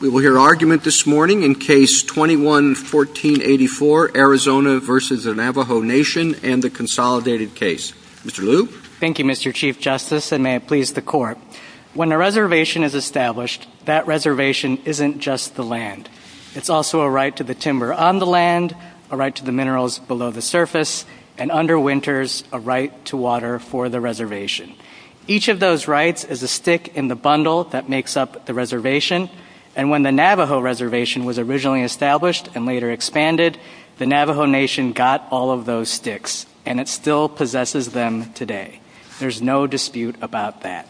We will hear argument this morning in Case 21-1484, Arizona v. Navajo Nation and the Consolidated Case. Mr. Liu? Thank you, Mr. Chief Justice, and may it please the Court. When a reservation is established, that reservation isn't just the land. It's also a right to the timber on the land, a right to the minerals below the surface, and under winters, a right to water for the reservation. Each of those rights is a stick in the bundle that makes up the reservation, and when the Navajo Reservation was originally established and later expanded, the Navajo Nation got all of those sticks, and it still possesses them today. There's no dispute about that.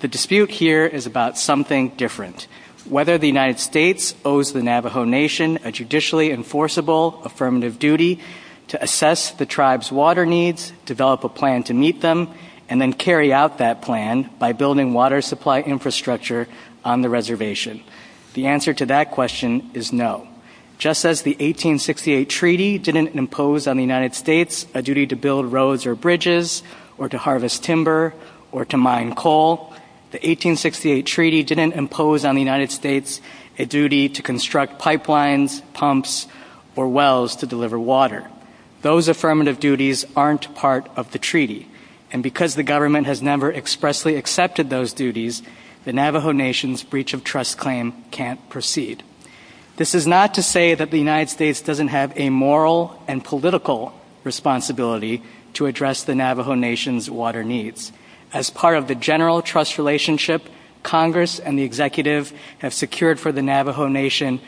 The dispute here is about something different. Whether the United States owes the Navajo Nation a judicially enforceable affirmative duty to assess the tribe's water needs, develop a plan to meet them, and then carry out that plan by building water supply infrastructure on the reservation. The answer to that question is no. Just as the 1868 Treaty didn't impose on the United States a duty to build roads or bridges, or to harvest timber, or to mine coal, the 1868 Treaty didn't impose on the United States a duty to construct pipelines, pumps, or wells to deliver water. Those affirmative duties aren't part of the Treaty, and because the government has never expressly accepted those duties, the Navajo Nation's breach of trust claim can't proceed. This is not to say that the United States doesn't have a moral and political responsibility to address the Navajo Nation's water needs. As part of the general trust relationship, Congress and the Executive have secured for the Navajo Nation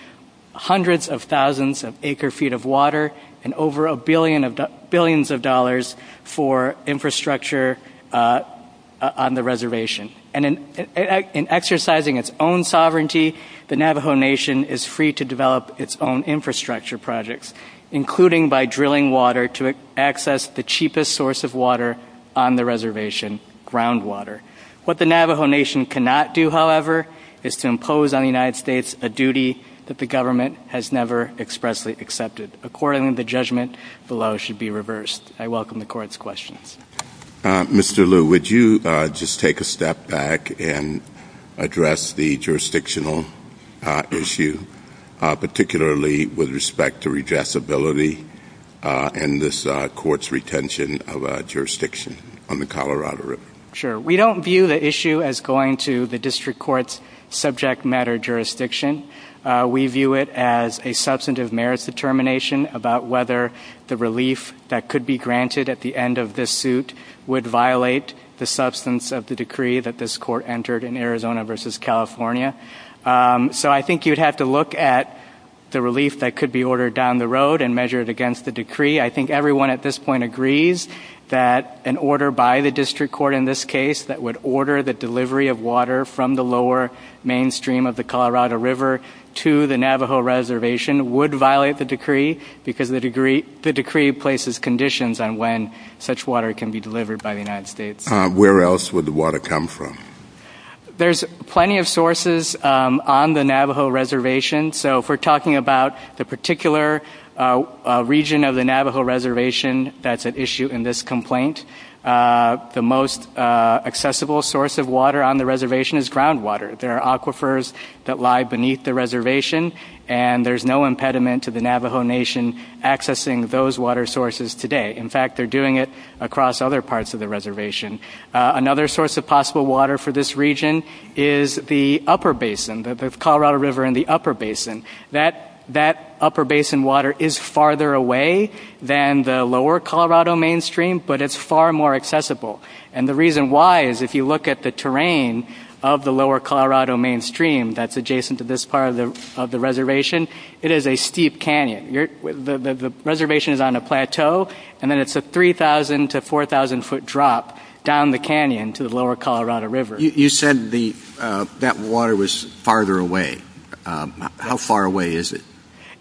hundreds of thousands of acre-feet of water and over a billion of billions of dollars for infrastructure on the reservation. And in exercising its own sovereignty, the Navajo Nation is free to develop its own infrastructure projects, including by drilling water to access the cheapest source of water on the reservation, groundwater. What the Navajo Nation cannot do, however, is to impose on the United States a duty that the government has never expressly accepted. According to the judgment, the law should be reversed. I welcome the Court's questions. Mr. Liu, would you just take a step back and address the jurisdictional issue, particularly with respect to redressability and this Court's retention of jurisdiction on the Colorado River? Sure. We don't view the issue as going to the District Court's subject matter jurisdiction. We view it as a substantive merits determination about whether the relief that could be granted at the end of this suit would violate the substance of the the relief that could be ordered down the road and measured against the decree. I think everyone at this point agrees that an order by the District Court in this case that would order the delivery of water from the lower mainstream of the Colorado River to the Navajo Reservation would violate the decree because the decree places conditions on when such water can be delivered by the United States. Where else would the water come from? There's plenty of sources on the Navajo Reservation so if we're talking about the particular region of the Navajo Reservation, that's an issue in this complaint. The most accessible source of water on the reservation is groundwater. There are aquifers that lie beneath the reservation and there's no impediment to the Navajo Nation accessing those water sources today. In fact, they're doing it across other parts of the reservation. Another source of possible water for this region is the upper basin, the Colorado River in the upper basin. That upper basin water is farther away than the lower Colorado mainstream but it's far more accessible and the reason why is if you look at the terrain of the lower Colorado mainstream that's adjacent to this part of the reservation, it is a steep canyon. The reservation is on a plateau and then it's a 3,000 to 4,000 foot drop down the canyon to the lower Colorado River. You said that water was farther away. How far away is it?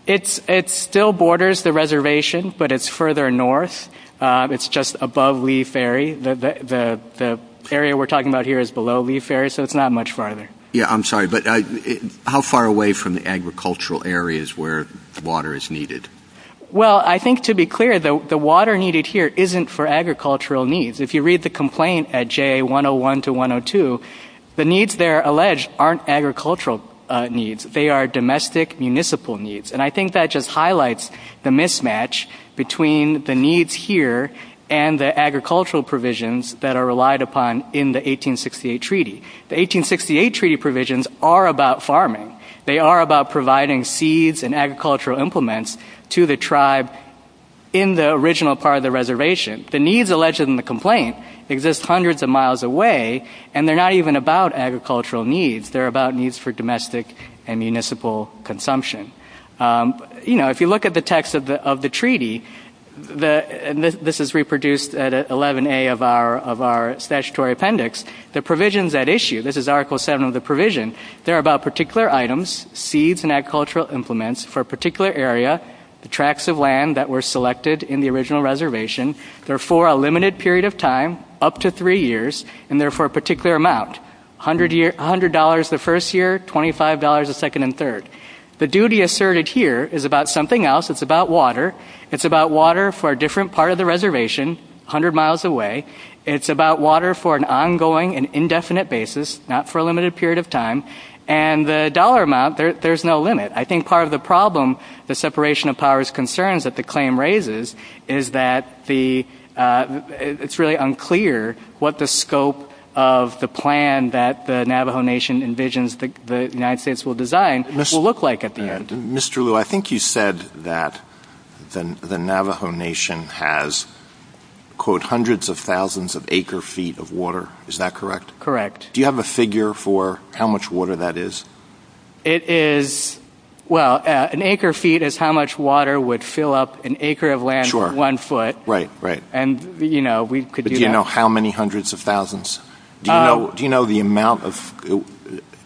It still borders the reservation but it's further north. It's just above Lee Ferry. The area we're talking about here is below Lee Ferry so it's not much farther. Yeah, I'm sorry but how far away from the agricultural areas where water is needed? Well, I think to be clear, the water needed here isn't for agricultural needs. If you read the complaint at JA 101 to 102, the needs there alleged aren't agricultural needs. They are domestic municipal needs and I think that just highlights the mismatch between the needs here and the agricultural provisions that are relied upon in the 1868 treaty. The 1868 treaty provisions are about farming. They are about providing seeds and agricultural implements to the tribe in the original part of the reservation. The needs alleged in the complaint exist hundreds of miles away and they're not even about agricultural needs. They're about needs for domestic and municipal consumption. If you look at the text of the treaty, this is reproduced at 11A of our appendix, the provisions that issue, this is article seven of the provision, they're about particular items, seeds and agricultural implements for a particular area, the tracts of land that were selected in the original reservation. They're for a limited period of time, up to three years, and they're for a particular amount, $100 the first year, $25 the second and third. The duty asserted here is about something else. It's about water. It's about water for a different part of the reservation, 100 miles away. It's about water for an ongoing and indefinite basis, not for a limited period of time, and the dollar amount, there's no limit. I think part of the problem, the separation of powers concerns that the claim raises is that it's really unclear what the scope of the plan that the Navajo Nation envisions the United States will design will look like at the end. Mr. Liu, I think you said that the Navajo Nation has quote hundreds of thousands of acre feet of water, is that correct? Correct. Do you have a figure for how much water that is? It is, well, an acre feet is how much water would fill up an acre of land one foot. Right, right. And you know, we could... Do you know how many hundreds of thousands? Do you know the amount of...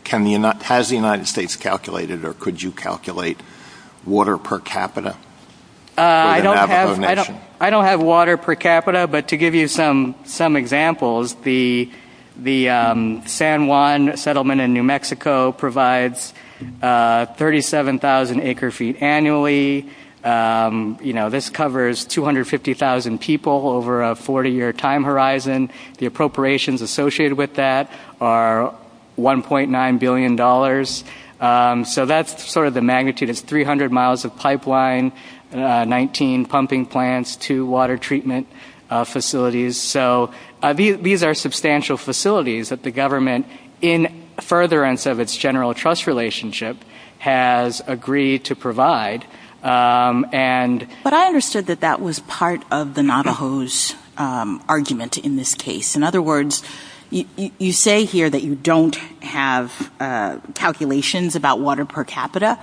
Has the United States calculated or could you calculate water per capita? I don't have water per capita, but to give you some examples, the San Juan settlement in New Mexico provides 37,000 acre feet annually. You know, this covers 250,000 people over a 40-year time horizon. The appropriations associated with that are $1.9 billion. So that's sort of the magnitude of 300 miles of pipeline, 19 pumping plants, two water treatment facilities. So these are substantial facilities that the government in furtherance of its general trust relationship has agreed to provide. But I understood that that was part of the Navajo's argument in this case. In other words, you say here that you don't have calculations about water per capita.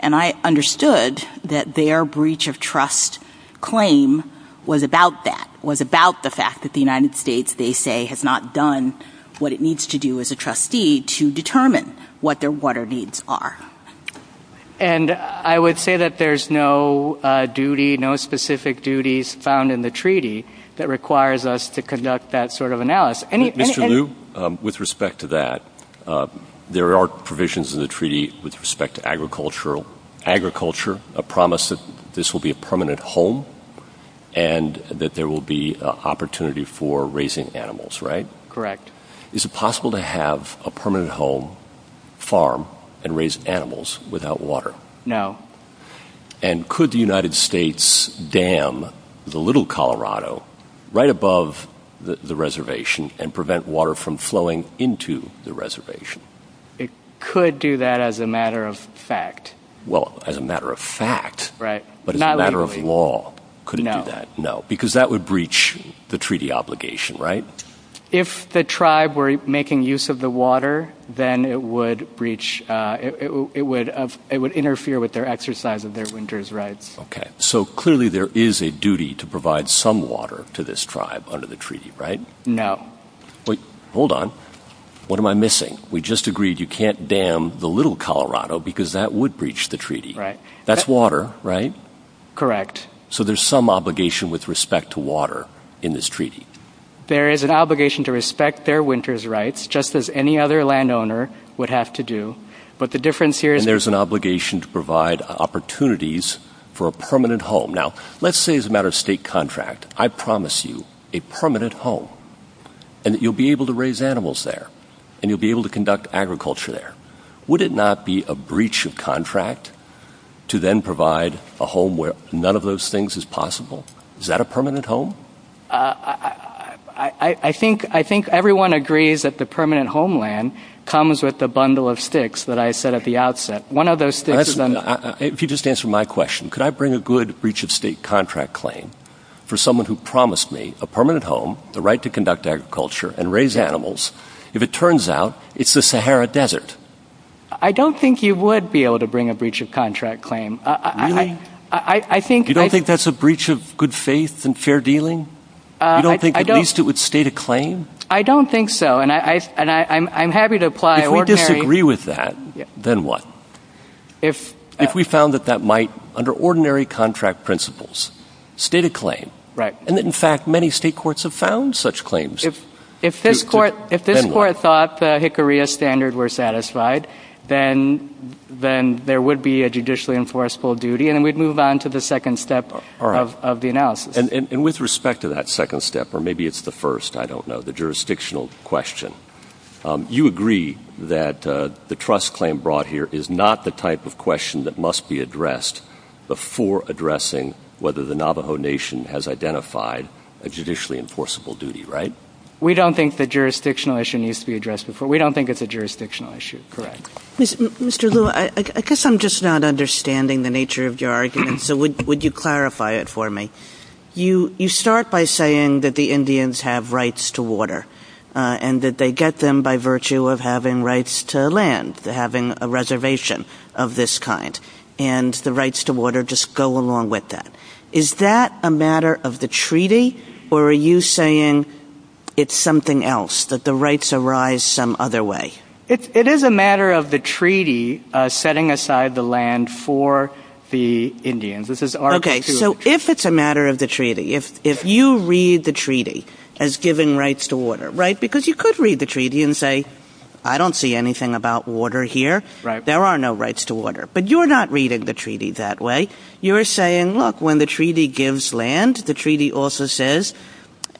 And I understood that their breach of trust claim was about that, was about the fact that the United States, they say, has not done what it needs to do as a trustee to determine what their water needs are. And I would say that there's no duty, no specific duties found in the treaty that requires us to conduct that sort of analysis. Mr. Liu, with respect to that, there are provisions in the treaty with respect to agriculture, a promise that this will be a permanent home and that there will be opportunity for raising animals, right? Correct. Is it farm and raise animals without water? No. And could the United States dam the little Colorado right above the reservation and prevent water from flowing into the reservation? It could do that as a matter of fact. Well, as a matter of fact, right? But it's a matter of law. Could it do that? No. Because that would breach the treaty obligation, right? If the tribe were making use of the water, then it would breach, it would interfere with their exercise of their winter's rights. Okay. So clearly there is a duty to provide some water to this tribe under the treaty, right? No. Wait, hold on. What am I missing? We just agreed you can't dam the little Colorado because that would breach the treaty, right? That's water, right? Correct. So there's some obligation with respect to water in this treaty. There is an obligation to respect their winter's rights, just as any other landowner would have to do. But the difference here is- And there's an obligation to provide opportunities for a permanent home. Now, let's say as a matter of state contract, I promise you a permanent home and that you'll be able to raise animals there and you'll be able to conduct agriculture there. Would it not be a breach of contract to then provide a home where none of those things is possible? Is that a permanent homeland comes with the bundle of sticks that I said at the outset? One of those- If you just answer my question, could I bring a good breach of state contract claim for someone who promised me a permanent home, the right to conduct agriculture and raise animals, if it turns out it's the Sahara Desert? I don't think you would be able to bring a breach of contract claim. Really? You don't think that's a breach of good faith and fair dealing? You don't think at least it would state a claim? I don't think so. And I'm happy to apply- If we disagree with that, then what? If we found that that might, under ordinary contract principles, state a claim. And in fact, many state courts have found such claims. If this court thought the Hickory Standard were satisfied, then there would be a judicially enforceable duty and we'd move on to the second step of the analysis. And with respect to that second step, or maybe it's the first, I don't know, the jurisdictional question, you agree that the trust claim brought here is not the type of question that must be addressed before addressing whether the Navajo Nation has identified a judicially enforceable duty, right? We don't think the jurisdictional issue needs to be addressed before. We don't think it's a jurisdictional issue. Correct. Mr. Lew, I guess I'm just not You start by saying that the Indians have rights to water and that they get them by virtue of having rights to land, having a reservation of this kind, and the rights to water just go along with that. Is that a matter of the treaty or are you saying it's something else, that the rights arise some other way? It is a matter of the treaty setting aside the land for the Indians. Okay, so if it's a matter of the treaty, if you read the treaty as giving rights to water, right? Because you could read the treaty and say, I don't see anything about water here. There are no rights to water, but you're not reading the treaty that way. You're saying, look, when the treaty gives land, the treaty also says,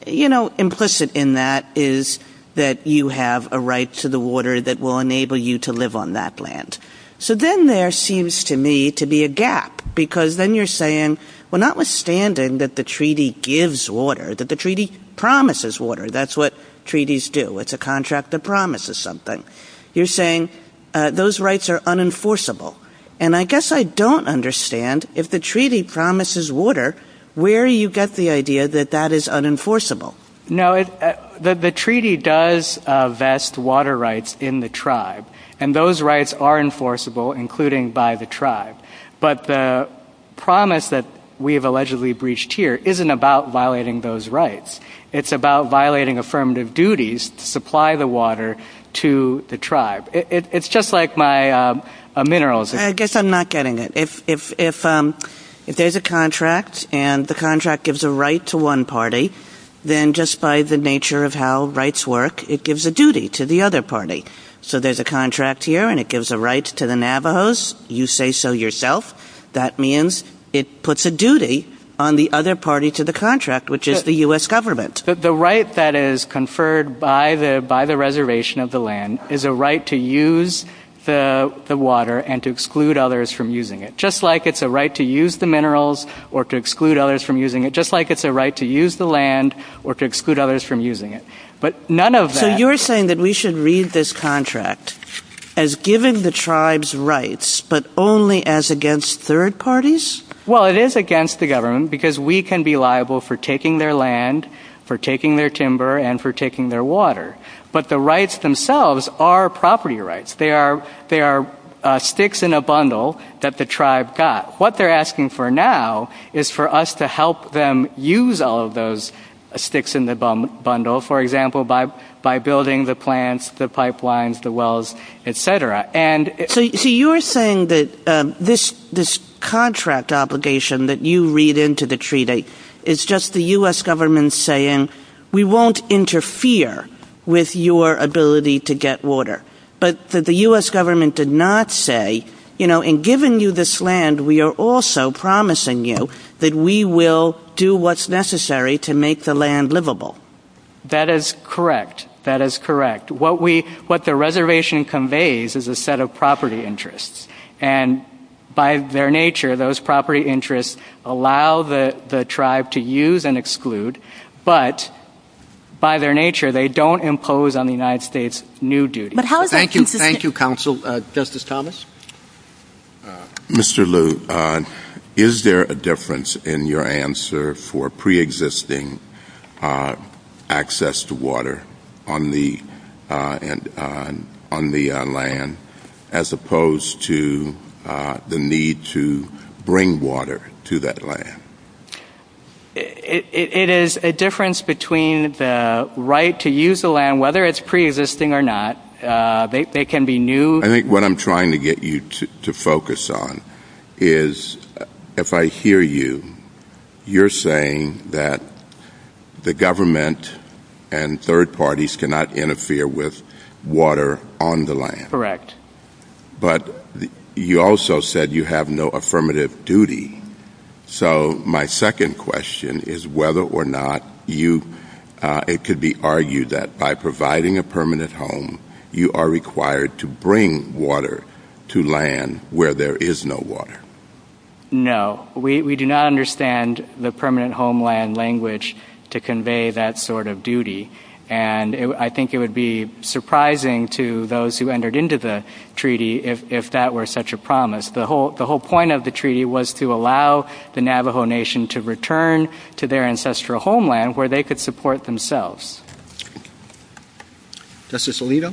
you know, implicit in that is that you have a right to the water that will enable you to live on that land. So then there seems to me to be a gap because then you're saying, well, notwithstanding that the treaty gives water, that the treaty promises water, that's what treaties do. It's a contract that promises something. You're saying those rights are unenforceable. And I guess I don't understand if the treaty promises water, where you get the idea that that is unenforceable. No, the treaty does vest water rights in the tribe, and those rights are enforceable, including by the tribe. But the promise that we have allegedly breached here isn't about violating those rights. It's about violating affirmative duties to supply the water to the tribe. It's just like my minerals. I guess I'm not getting it. If there's a contract and the party, then just by the nature of how rights work, it gives a duty to the other party. So there's a contract here and it gives a right to the Navajos. You say so yourself. That means it puts a duty on the other party to the contract, which is the US government. The right that is conferred by the by the reservation of the land is a right to use the water and to exclude others from using it, just like it's a right to use the minerals or to exclude others from using it, just like it's a right to use the land or to exclude others from using it. So you're saying that we should read this contract as giving the tribes rights, but only as against third parties? Well, it is against the government because we can be liable for taking their land, for taking their timber, and for taking their water. But the rights themselves are property rights. They are sticks in a bundle that the tribe got. What they're asking for now is for us to help them use all of those sticks in the bundle, for example, by building the plants, the pipelines, the wells, etc. So you're saying that this contract obligation that you read into the treaty, it's just the US government saying, we won't interfere with your ability to get water. But the US government did not say, in giving you this land, we are also promising you that we will do what's necessary to make the land livable. That is correct. That is correct. What the reservation conveys is a set of property interests. And by their nature, those property interests allow the tribe to use and exclude, but by their nature, they don't impose on the United States new duties. Thank you, counsel. Justice Thomas? Mr. Liu, is there a difference in your answer for pre-existing access to water on the land, as opposed to the need to bring water to that land? It is a difference between the right to use the land, whether it's pre-existing or not. They can be new. I think what I'm trying to get you to focus on is, if I hear you, you're saying that the government and third parties cannot interfere with water on the land. Correct. But you also said you have no affirmative duty. So my second question is whether or not you – it could be argued that by providing a permanent home, you are required to bring water to land where there is no water. No. We do not understand the permanent homeland language to convey that sort of duty. And I think it would be surprising to those who entered into the treaty if that were such a promise. The whole point of the treaty was to allow the Navajo Nation to return to their ancestral homeland where they could support themselves. Justice Alito?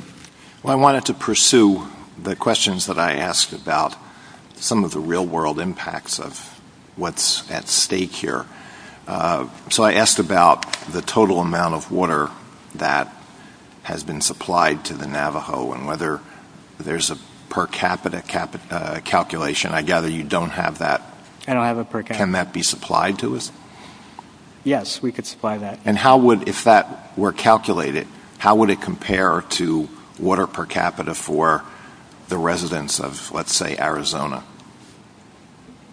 Well, I wanted to pursue the questions that I asked about some of the real-world impacts of what's at stake here. So I asked about the total amount of water that has been supplied to the Navajo and whether there's a per capita calculation. I gather you don't have that. I don't have a per capita. Can that be supplied to us? Yes, we could supply that. And how would – if that were calculated, how would it compare to water per capita for the residents of, let's say, Arizona?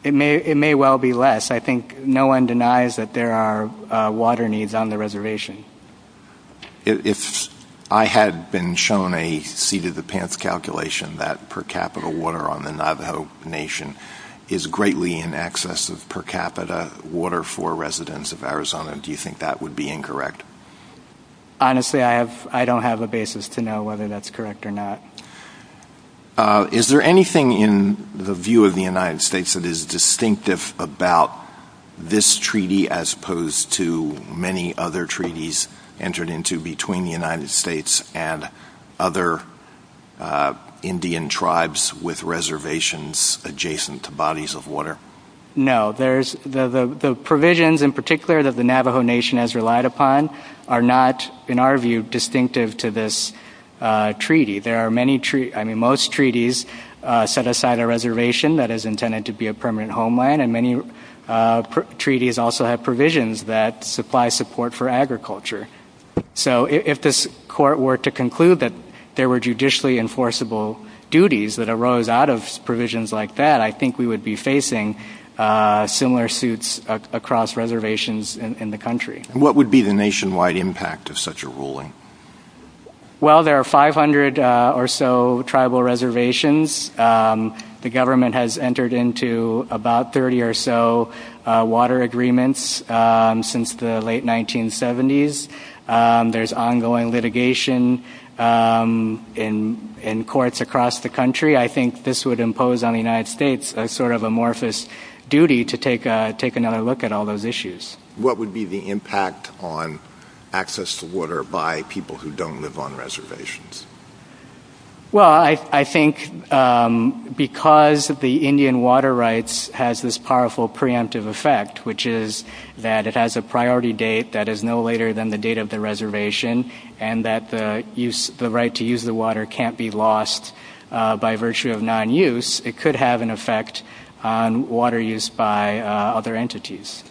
It may well be less. I think no one denies that there are water needs on the reservation. If I had been shown a seat-at-the-pants calculation, that per capita water on the Navajo Nation is greatly in excess of per capita water for residents of Arizona, do you think that would be incorrect? Honestly, I don't have a basis to know whether that's correct or not. Is there anything in the view of the United States that is distinctive about this treaty as opposed to many other treaties entered into between the United States and other Indian tribes with reservations adjacent to bodies of water? No. There's – the provisions in particular that the Navajo Nation has relied upon are not, in our view, distinctive to this treaty. There are many – I mean, most treaties set aside a reservation that is intended to be permanent homeland, and many treaties also have provisions that supply support for agriculture. So if this court were to conclude that there were judicially enforceable duties that arose out of provisions like that, I think we would be facing similar suits across reservations in the country. What would be the nationwide impact of such a ruling? Well, there are 500 or so tribal reservations. The government has entered into about 30 or so water agreements since the late 1970s. There's ongoing litigation in courts across the country. I think this would impose on the United States a sort of amorphous duty to take another look at all those issues. What would be the impact on access to water by people who don't live on reservations? Well, I think because the Indian water rights has this powerful preemptive effect, which is that it has a priority date that is no later than the date of the reservation, and that the right to use the water can't be lost by virtue of non-use, it could have an effect on water use by other entities.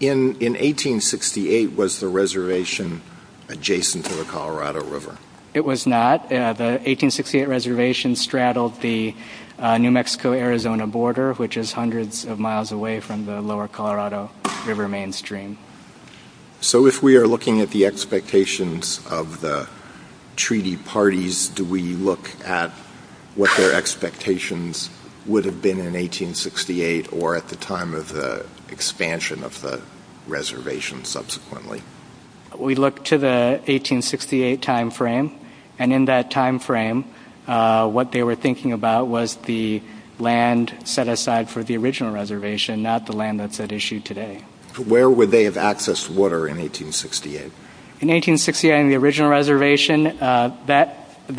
In 1868, was the reservation adjacent to the Colorado River? It was not. The 1868 reservation straddled the New Mexico-Arizona border, which is hundreds of miles away from the lower Colorado River mainstream. So if we are looking at the expectations of the treaty parties, do we look at what their expectations would have been in 1868, or at the time of the expansion of the reservation subsequently? We look to the 1868 time frame, and in that time frame, what they were thinking about was the land set aside for the original reservation, not the land that's at issue today. Where would they have accessed water in 1868? In 1868, on the original reservation, much of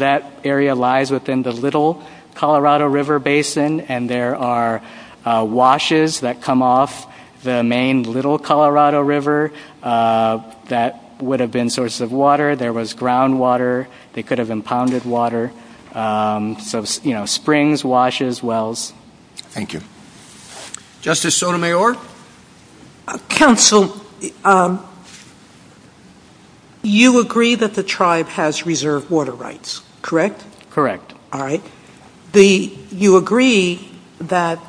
that area lies within the little Colorado River basin, and there are washes that come off the main little Colorado River that would have been sources of water. There was groundwater. They could have impounded water. So, you know, springs, lakes. You agree that the tribe has reserved water rights, correct? Correct. All right. You agree that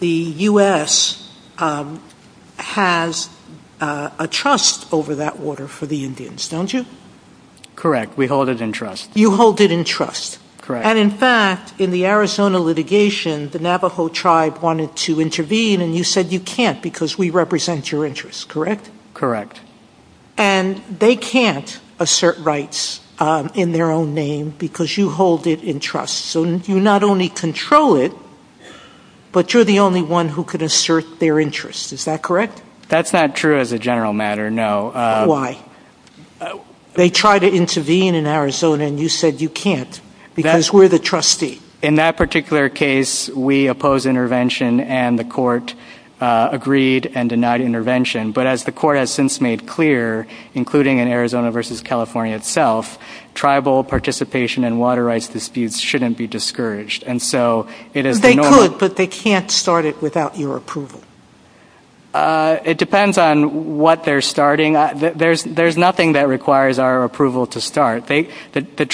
the U.S. has a trust over that water for the Indians, don't you? Correct. We hold it in trust. You hold it in trust. Correct. And in fact, in the Arizona litigation, the Navajo tribe wanted to intervene, and you said you can't because we represent your interests, correct? Correct. And they can't assert rights in their own name because you hold it in trust. So, you not only control it, but you're the only one who can assert their interests. Is that correct? That's not true as a general matter, no. Why? They tried to intervene in Arizona, and you said you can't because we're the trustee. In that particular case, we oppose intervention, and the court agreed and denied intervention. But as the court has since made clear, including in Arizona versus California itself, tribal participation in water rights disputes shouldn't be discouraged. And so, it is the norm. They could, but they can't start it without your approval. It depends on what they're starting. There's nothing that requires our approval to bring a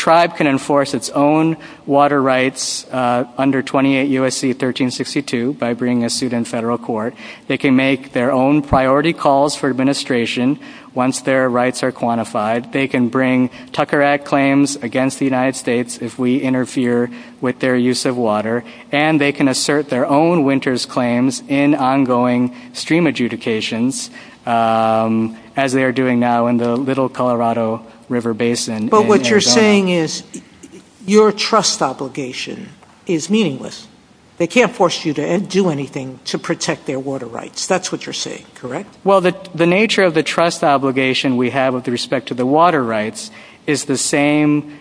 suit in federal court. They can make their own priority calls for administration once their rights are quantified. They can bring Tucker Act claims against the United States if we interfere with their use of water, and they can assert their own winters claims in ongoing stream adjudications as they are doing now in the Little Colorado River Basin. But what you're saying is your trust obligation is meaningless. They can't force you to do anything to protect their water rights. That's what you're saying, correct? Well, the nature of the trust obligation we have with respect to the water rights is the same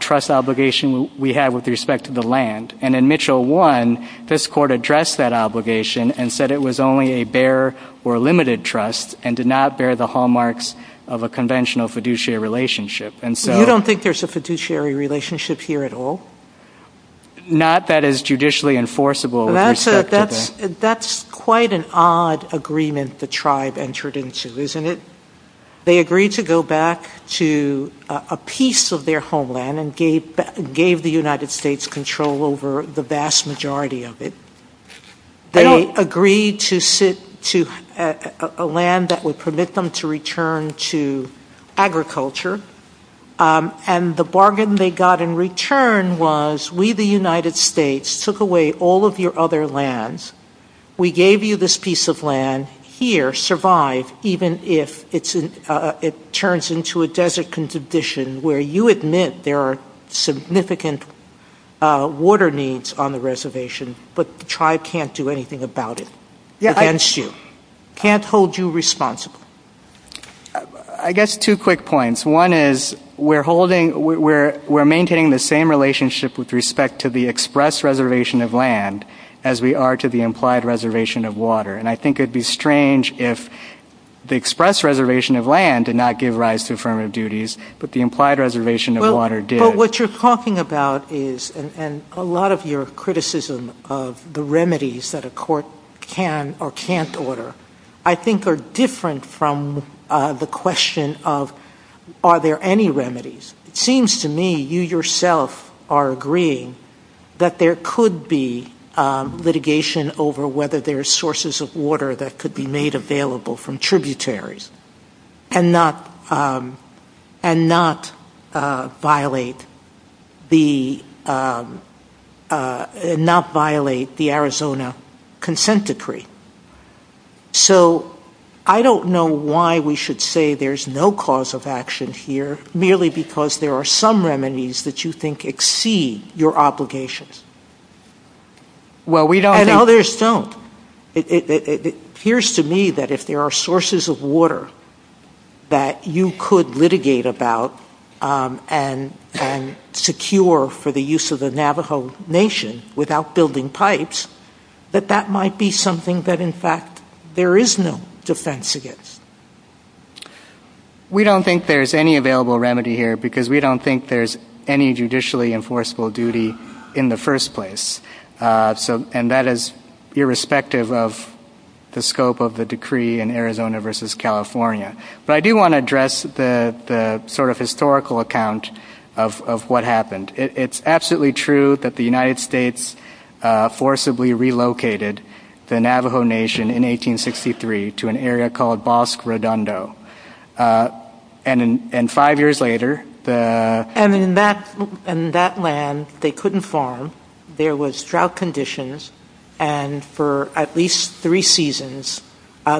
trust obligation we have with respect to the land. And in Mitchell 1, this court addressed that obligation and said it was only a bare or limited trust, and did not bear the hallmarks of a conventional fiduciary relationship. And so, you don't think there's a fiduciary relationship here at all? Not that it's judicially enforceable. Well, that's quite an odd agreement the tribe entered into, isn't it? They agreed to go back to a piece of their homeland and gave the United States control over the vast majority of it. They agreed to sit to a land that would permit them to return to agriculture, and the bargain they got in return was, we, the United States, took away all of your other lands. We gave you this piece of land. Here, survive, even if it turns into a desert condition where you admit there are significant water needs on the reservation, but the tribe can't do anything about it. Can't hold you responsible. I guess two quick points. One is, we're maintaining the same relationship with respect to the express reservation of land as we are to the implied reservation of water. And I think it'd be strange if the express reservation of land did not give rise to affirmative duties, but the implied reservation of water did. But what you're talking about is, and a lot of your criticism of the remedies that a court can or can't order, I think are different from the question of, are there any remedies? It seems to me you yourself are agreeing that there could be litigation over whether there are sources of water that could be made available from tributaries and not violate the Arizona consent decree. So I don't know why we should say there's no cause of action here, merely because there are some remedies that you think exceed your obligations. Well, we don't. And others don't. It appears to me that if there are sources of water that you could litigate about and secure for the use of the Navajo Nation without building pipes, that that might be something that, in fact, there is no defense against. We don't think there's any available remedy here because we don't think there's any judicially enforceable duty in the first place. And that is irrespective of the scope of the decree in Arizona versus California. But I do want to address the sort of historical account of what happened. It's absolutely true that the United States forcibly relocated the Navajo Nation in 1863 to an area called Bosque Redondo. And five years later... And in that land, they couldn't farm. There was drought conditions. And for at least three seasons,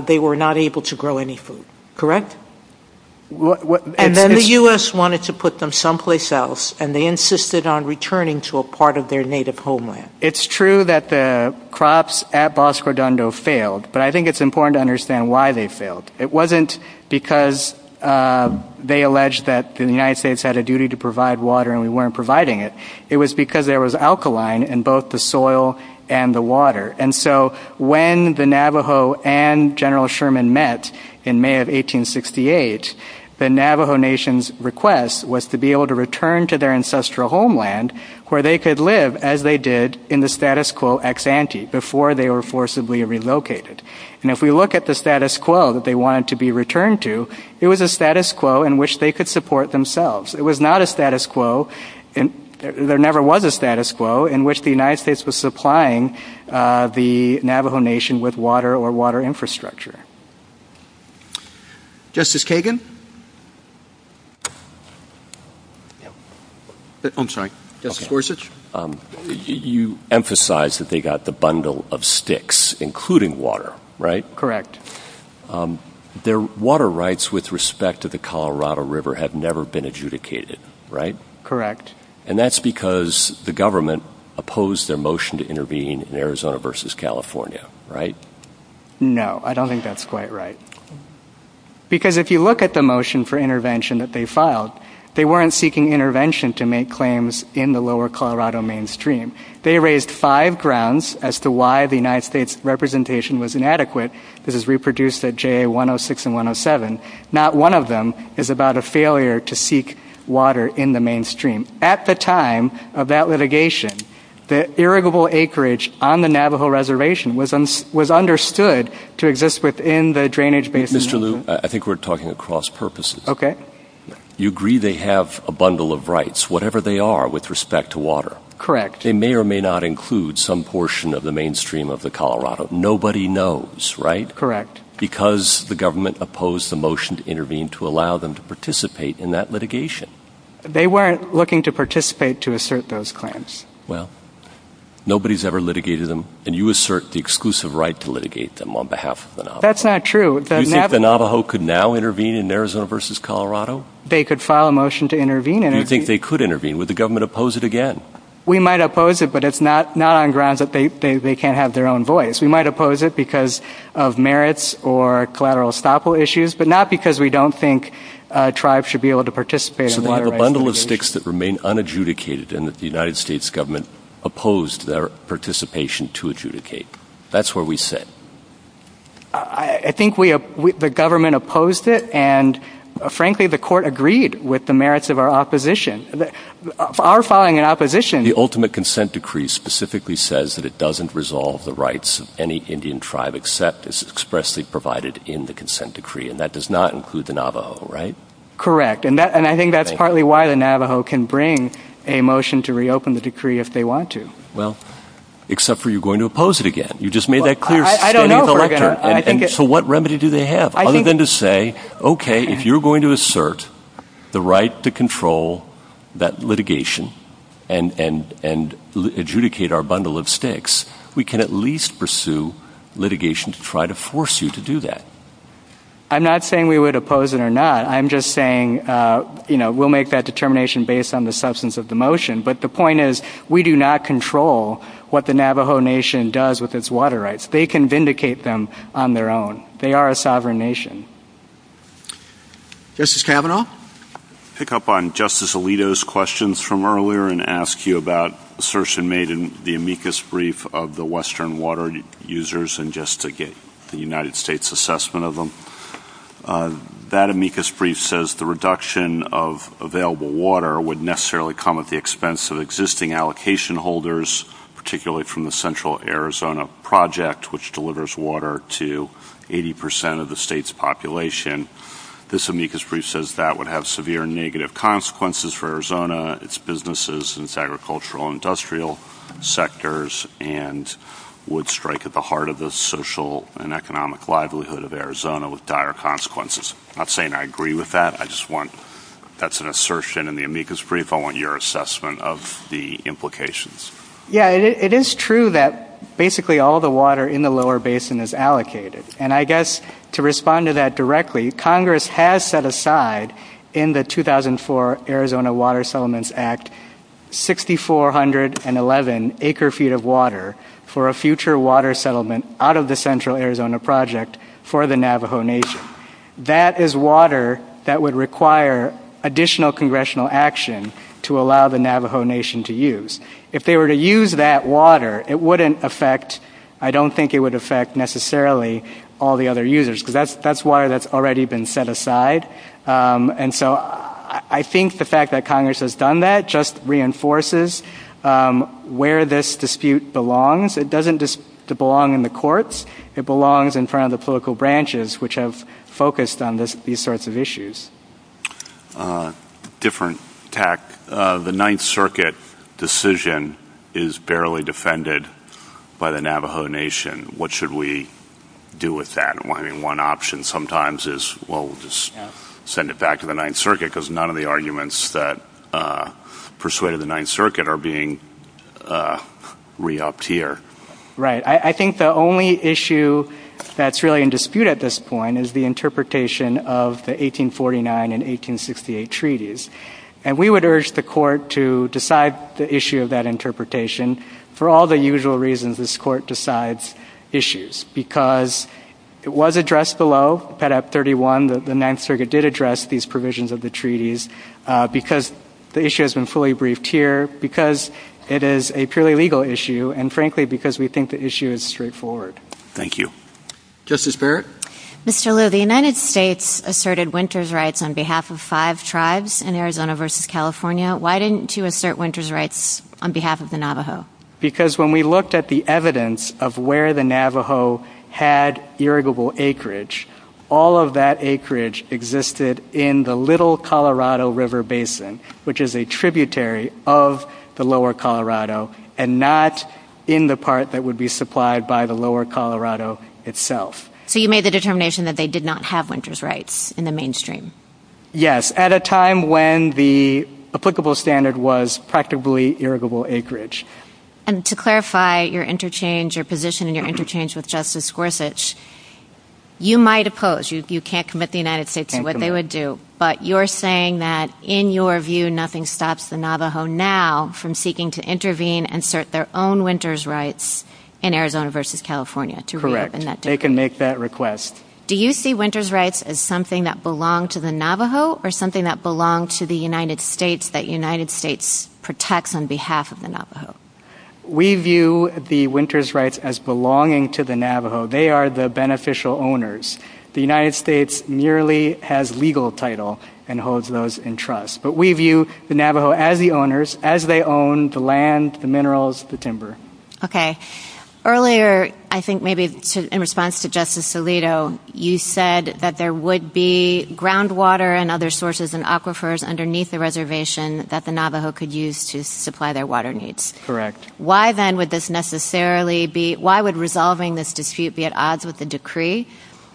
they were not able to grow any food. Correct? And then the U.S. wanted to put them someplace else, and they insisted on returning to a part of their native homeland. It's true that the crops at Bosque Redondo failed, but I think it's important to understand why they failed. It wasn't because they alleged that the United States had a duty to provide water and we weren't providing it. It was because there was alkaline in both the soil and the water. And so when the Navajo and General Sherman met in May of 1868, the Navajo Nation's request was to be able to return to their ancestral homeland where they could live as they did in the status quo ex-ante before they were forcibly relocated. And if we look at the status quo that they wanted to be returned to, it was a status quo in which they could support themselves. It was not a status quo in which the United States was supplying the Navajo Nation with water or water infrastructure. Justice Kagan? I'm sorry. Justice Gorsuch? You emphasized that they got the bundle of sticks, including water, right? Correct. Their water rights with respect to the Colorado River had never been adjudicated, right? Correct. And that's because the government opposed their motion to intervene in Arizona versus California, right? No, I don't think that's quite right. Because if you look at the motion for intervention that they filed, they weren't seeking intervention to make claims in the lower Colorado mainstream. They raised five grounds as to why the United States' representation was inadequate. This is reproduced at JA 106 and 107. Not one of them is about a failure to seek water in the mainstream. At the time of that litigation, the irrigable acreage on the Navajo reservation was understood to exist within the drainage basin. Mr. Liu, I think we're talking across purposes. Okay. You agree they have a bundle of rights, whatever they are, with respect to water. Correct. They may or may not include some portion of the mainstream of the Colorado. Nobody knows, right? Correct. Because the government opposed the motion to intervene to allow them to participate in that litigation. They weren't looking to participate to assert those claims. Well, nobody's ever litigated them, and you assert the exclusive right to litigate them on behalf of the Navajo. That's not true. Do you think the Navajo could now intervene in Arizona versus Colorado? They could file a motion to intervene. Do you think they could intervene? Would the government oppose it again? We might oppose it, but it's not on grounds that they can't have their own voice. We might oppose it because of merits or collateral estoppel issues, but not because we don't think tribes should be able to participate in a bundle of sticks that remain unadjudicated and that the United States government opposed their participation to adjudicate. That's where we sit. I think the government opposed it, and frankly, the court agreed with the merits of our opposition. Our filing an opposition... The ultimate consent decree specifically says that it doesn't resolve the rights of any Indian tribe except as expressly provided in the consent decree, and that does not include the Navajo, right? Correct. I think that's partly why the Navajo can bring a motion to reopen the decree if they want to. Well, except for you're going to oppose it again. You just made that clear... I don't know if I'm going to... So what remedy do they have other than to say, okay, if you're going to assert the right to control that litigation and adjudicate our bundle of sticks, we can at least pursue litigation to try to force you to do that. I'm not saying we would oppose it or not. I'm just saying we'll make that determination based on the substance of the motion, but the point is we do not control what the Navajo nation does with its water rights. They can vindicate them on their own. They are a sovereign nation. Justice Kavanaugh? Pick up on Justice Alito's questions from earlier and ask you about assertion made in the amicus brief of the Western water users and just to get the United States assessment of them. That amicus brief says the reduction of available water would necessarily come at the expense of existing allocation holders, particularly from the Central Arizona Project, which delivers water to 80% of the state's population. This amicus brief says that would have severe negative consequences for Arizona, its businesses, its agricultural and industrial sectors, and would strike at the heart of the social and economic livelihood of Arizona with dire consequences. I'm not saying I agree with that. I just want that's an assertion in the amicus brief. I want your assessment of the implications. Yeah, it is true that basically all the water in the lower basin is allocated, and I guess to respond to that directly, Congress has set aside in the 2004 Arizona Water Settlements Act 6,411 acre feet of water for a future water settlement out of the Central Arizona Project for the Navajo Nation. That is water that would require additional congressional action to allow the Navajo Nation to use. If they were to use that water, it wouldn't affect, I don't think it would affect necessarily all the other users, because that's water that's already been set aside. And so I think the fact that Congress has done that just reinforces where this dispute belongs. It doesn't belong in the courts. It belongs in front of the political branches, which have focused on these sorts of issues. A different tack. The Ninth Circuit decision is barely defended by the Navajo Nation. What should we do with that? I mean, one option sometimes is, well, we'll just send it back to the Ninth Circuit because none of the arguments that persuaded the Ninth Circuit are being re-upped here. Right. I think the only issue that's really in dispute at this point is the interpretation of the 1849 and 1868 treaties. And we would urge the court to decide the issue of that interpretation. For all the usual reasons, this court decides issues because it was addressed below, Pet. Act 31. The Ninth Circuit did address these provisions of the treaties because the issue has been fully briefed here, because it is a purely legal issue, and frankly, because we think the issue is straightforward. Thank you. Justice Barrett? Mr. Liu, the United States asserted winter's rights on behalf of five tribes in Arizona versus California. Why didn't you assert winter's rights on behalf of the Navajo? Because when we looked at the evidence of where the Navajo had irrigable acreage, all of that acreage existed in the Little Colorado River Basin, which is a tributary of the lower Colorado and not in the part that would be supplied by the lower Colorado itself. So you made the determination that they did not have winter's rights in the mainstream? Yes, at a time when the applicable standard was practically irrigable acreage. And to clarify your interchange, your position and your interchange with Justice Gorsuch, you might oppose. You can't commit the United States to what they would do. But you're saying that, in your view, nothing stops the Navajo now from seeking to intervene and assert their own winter's rights in Arizona versus California. Correct. They can make that request. Do you see winter's rights as something that belong to the Navajo or something that belong to the United States that United States protects on behalf of the Navajo? We view the winter's rights as belonging to the Navajo. They are the beneficial owners. The United States merely has legal title and holds those in trust. But we view the Navajo as the owners, as they own the land, the minerals, the timber. Okay. Earlier, I think maybe in response to Justice Alito, you said that there would be groundwater and other sources and aquifers underneath the reservation that the Navajo could use to supply their water needs. Correct. Why then would this necessarily be – why would resolving this dispute be at odds with the decree?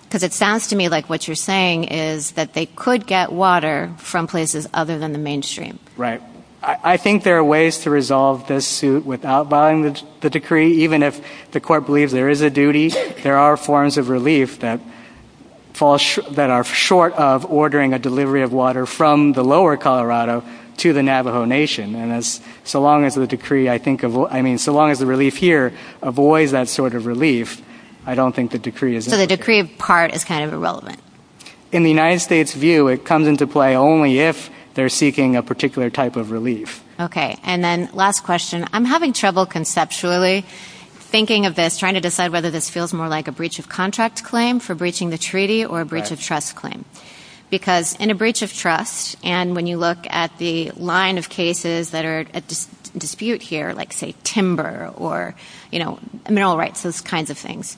Because it sounds to me like what you're saying is that they could get water from places other than the mainstream. Right. I think there are ways to resolve this suit without violating the decree. Even if the court believes there is a duty, there are forms of relief that are short of ordering a delivery of water from the lower Colorado to the Navajo Nation. And so long as the decree, I think of – I mean, so long as the relief here avoids that sort of relief, I don't think the decree is – So the decree, in part, is kind of irrelevant. In the United States' view, it comes into play only if they're seeking a particular type of relief. Okay. And then last question. I'm having trouble conceptually thinking of this, trying to decide whether this feels more like a breach of contract claim for breaching the treaty or a breach of trust claim. Because in a breach of trust, and when you look at the line of cases that are at dispute here, like say timber or mineral rights, those kinds of things,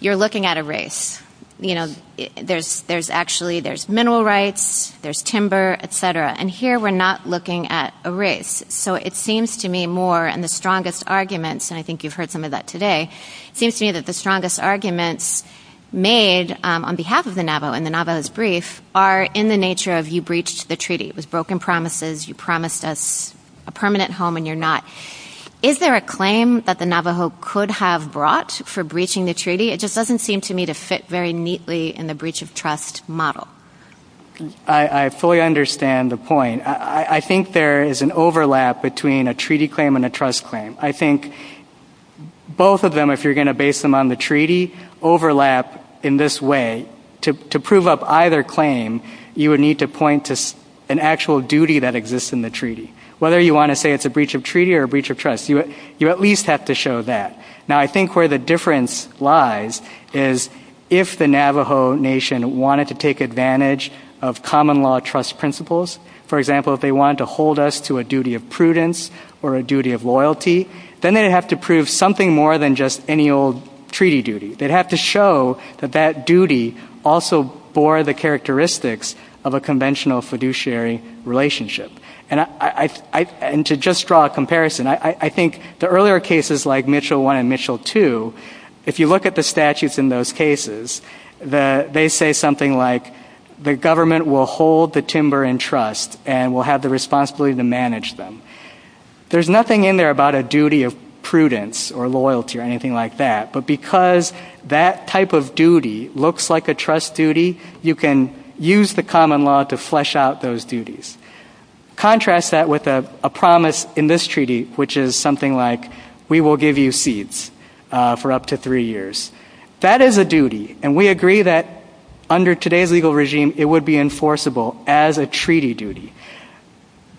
you're looking at a race. You know, there's actually – there's mineral rights, there's timber, et cetera. And here we're not looking at a race. So it seems to me more, and the strongest arguments – and I think you've heard some of that today – seems to me that the strongest arguments made on behalf of the Navajo in the Navajo's brief are in the nature of you breached the treaty. It was broken promises. You promised us a permanent home and you're not – is there a claim that the Navajo could have brought for breaching the treaty? It just doesn't seem to me to fit very neatly in the breach of trust model. I fully understand the point. I think there is an overlap between a treaty claim and a trust claim. I think both of them, if you're going to base them on the treaty, overlap in this way. To prove up either claim, you would need to point to an actual duty that exists in the treaty. Whether you want to say it's a breach of treaty or a breach of trust, you at least have to show that. Now, I think where the difference lies is if the Navajo Nation wanted to take advantage of common law trust principles – for example, if they wanted to hold us to a duty of prudence or a duty of loyalty – then they'd have to prove something more than just any old treaty duty. They'd have to show that that duty also bore the characteristics of a conventional fiduciary relationship. And to just draw a comparison, I think the earlier cases like Mitchell I and Mitchell II, if you look at the statutes in those cases, they say something like the government will hold the timber in trust and will have the responsibility to manage them. There's nothing in there about a duty of prudence or loyalty or anything like that, but because that type of duty looks like a trust duty, you can use the common law to flesh out those duties. Contrast that with a promise in this treaty, which is something like we will give you seeds for up to three years. That is a duty, and we agree that under today's legal regime, it would be enforceable as a treaty duty.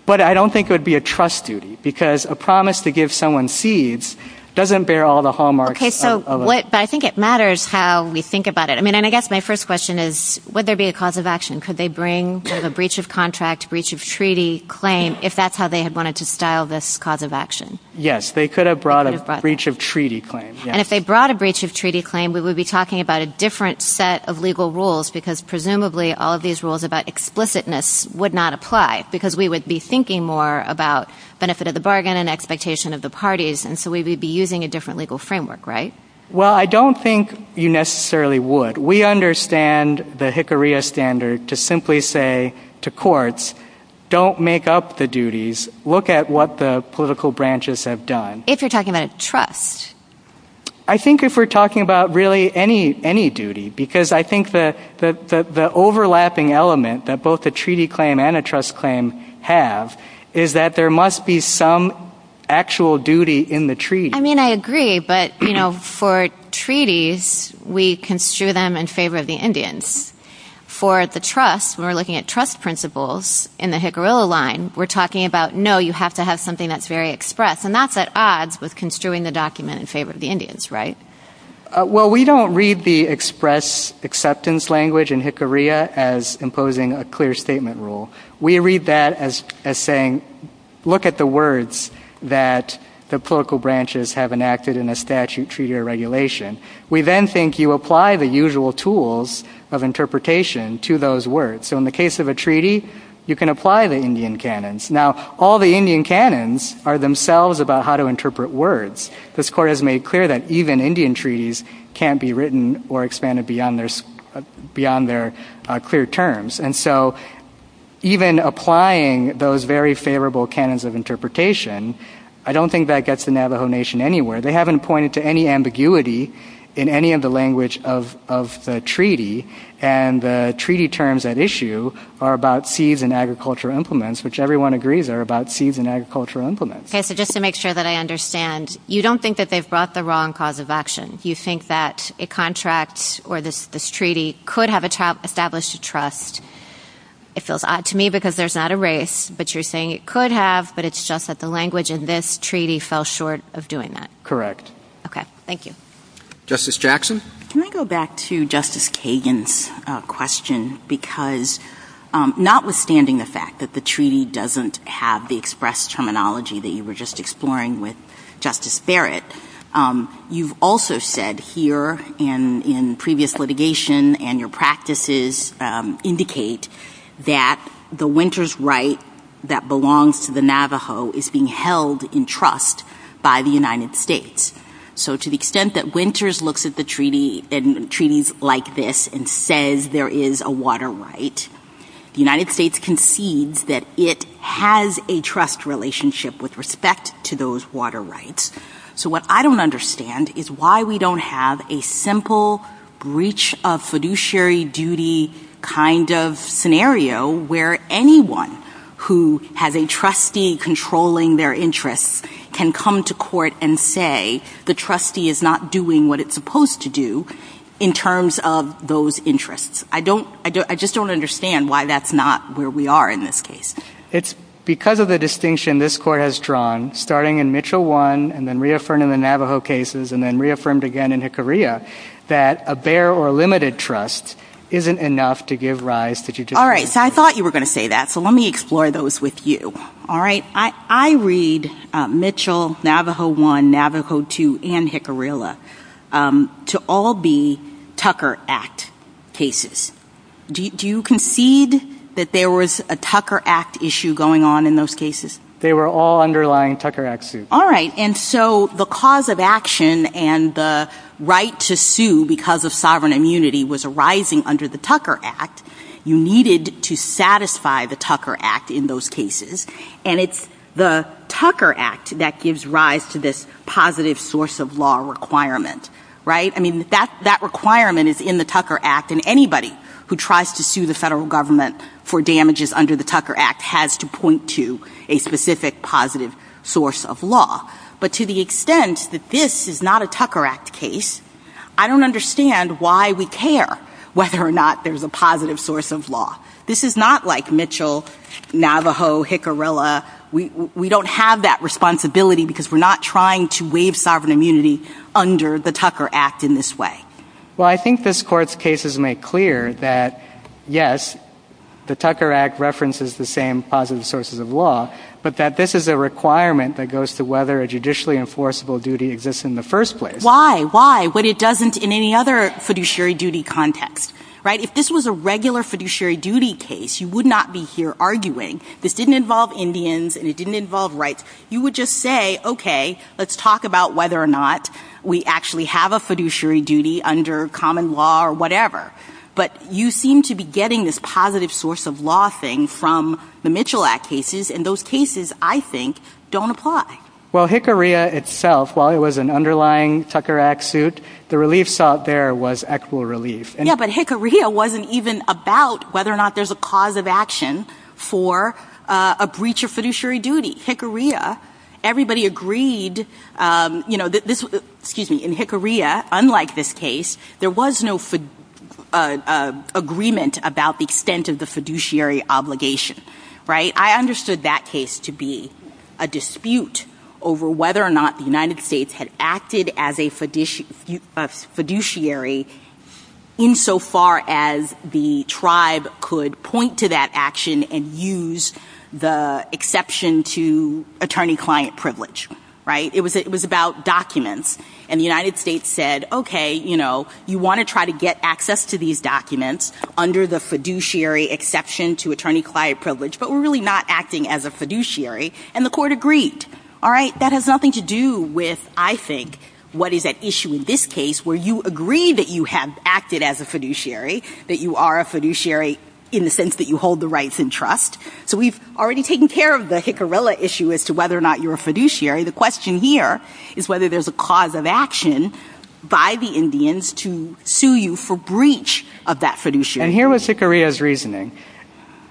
But I don't think it would be a trust duty, because a promise to give someone seeds doesn't bear all the hallmarks. Okay, so what – but I think it matters how we think about it. I mean, and I guess my first question is, would there be a cause of action? Could they bring a breach of contract, breach of treaty claim, if that's how they had wanted to style this cause of action? Yes, they could have brought a breach of treaty claim. And if they brought a breach of treaty claim, we would be talking about a different set of legal rules, because presumably all of these rules about explicitness would not apply, because we would be thinking more about benefit of the bargain and expectation of the parties, and so we would be using a different legal framework, right? Well, I don't think you necessarily would. We understand the Hickorya standard to simply say to courts, don't make up the duties, look at what the political branches have done. If you're talking about trust? I think if we're talking about really any duty, because I think the overlapping element that both a treaty claim and a trust claim have is that there must be some actual duty in the treaty. I agree, but for treaties, we construe them in favor of the Indians. For the trust, when we're looking at trust principles in the Hickoryla line, we're talking about, no, you have to have something that's very express, and that's at odds with construing the document in favor of the Indians, right? Well, we don't read the express acceptance language in Hickorya as imposing a clear rule. We read that as saying, look at the words that the political branches have enacted in a statute, treaty, or regulation. We then think you apply the usual tools of interpretation to those words. So in the case of a treaty, you can apply the Indian canons. Now, all the Indian canons are themselves about how to interpret words. This Court has made clear that even beyond their clear terms. And so even applying those very favorable canons of interpretation, I don't think that gets the Navajo Nation anywhere. They haven't pointed to any ambiguity in any of the language of the treaty, and the treaty terms at issue are about seeds and agricultural implements, which everyone agrees are about seeds and agricultural implements. Okay, so just to make sure that I understand, you don't think that they've brought the wrong cause of action. Do you think that a contract or this treaty could have established a trust? It feels odd to me because there's not a race, but you're saying it could have, but it's just that the language in this treaty fell short of doing that. Correct. Okay, thank you. Justice Jackson? Can I go back to Justice Kagan's question? Because notwithstanding the fact that the treaty doesn't have the express terminology that you were just exploring with Justice Barrett, you've also said here in previous litigation and your practices indicate that the Winters right that belongs to the Navajo is being held in trust by the United States. So to the extent that Winters looks at treaties like this and says there is a water right, the United States concedes that it has a trust relationship with respect to those water rights. So what I don't understand is why we don't have a simple breach of fiduciary duty kind of scenario where anyone who has a trustee controlling their interests can come to court and say the trustee is not doing what it's supposed to do in terms of those interests. I just don't understand why that's not where we are in this case. It's because of the distinction this court has drawn starting in Mitchell 1 and then reaffirmed in the Navajo cases and then reaffirmed again in Jicarilla that a bare or limited trust isn't enough to give rise to judicial... All right. So I thought you were going to say that. So let me explore those with you. All right. I read Mitchell, Navajo 1, Navajo 2, and Jicarilla to all be Tucker Act cases. Do you concede that there was a Tucker Act issue going on in those cases? They were all underlying Tucker Act suits. All right. And so the cause of action and the right to sue because of sovereign immunity was arising under the Tucker Act. You needed to satisfy the Tucker Act in those cases. And it's the Tucker Act that gives rise to this positive source of law requirement, right? I mean, that requirement is in the Tucker Act and anybody who tries to sue the federal government for damages under the Tucker Act has to point to a specific positive source of law. But to the extent that this is not a Tucker Act case, I don't understand why we care whether or not there's a positive source of law. This is not like Mitchell, Navajo, Jicarilla. We don't have that responsibility because we're not trying to waive sovereign immunity under the Tucker Act in this way. Well, I think this court's cases make clear that, yes, the Tucker Act references the same positive sources of law, but that this is a requirement that goes to whether a judicially enforceable duty exists in the first place. Why? Why? But it doesn't in any other fiduciary duty context, right? If this was a regular fiduciary duty case, you would not be here arguing. This didn't involve Indians and it you would just say, okay, let's talk about whether or not we actually have a fiduciary duty under common law or whatever. But you seem to be getting this positive source of law thing from the Mitchell Act cases and those cases, I think, don't apply. Well, Jicarilla itself, while it was an underlying Tucker Act suit, the relief sought there was actual relief. Yeah, but Jicarilla wasn't even about whether or not there's a cause of action for a breach of fiduciary duty. Jicarilla, everybody agreed, you know, this, excuse me, in Jicarilla, unlike this case, there was no agreement about the extent of the fiduciary obligation, right? I understood that case to be a dispute over whether or not the United States took action and used the exception to attorney-client privilege, right? It was about documents. And the United States said, okay, you know, you want to try to get access to these documents under the fiduciary exception to attorney-client privilege, but we're really not acting as a fiduciary. And the court agreed. All right, that has nothing to do with, I think, what is at issue in this case where you agree that you have acted as a fiduciary, that you are a fiduciary in the sense that you hold the rights and trust. So we've already taken care of the Jicarilla issue as to whether or not you're a fiduciary. The question here is whether there's a cause of action by the Indians to sue you for breach of that fiduciary. And here was Jicarilla's reasoning.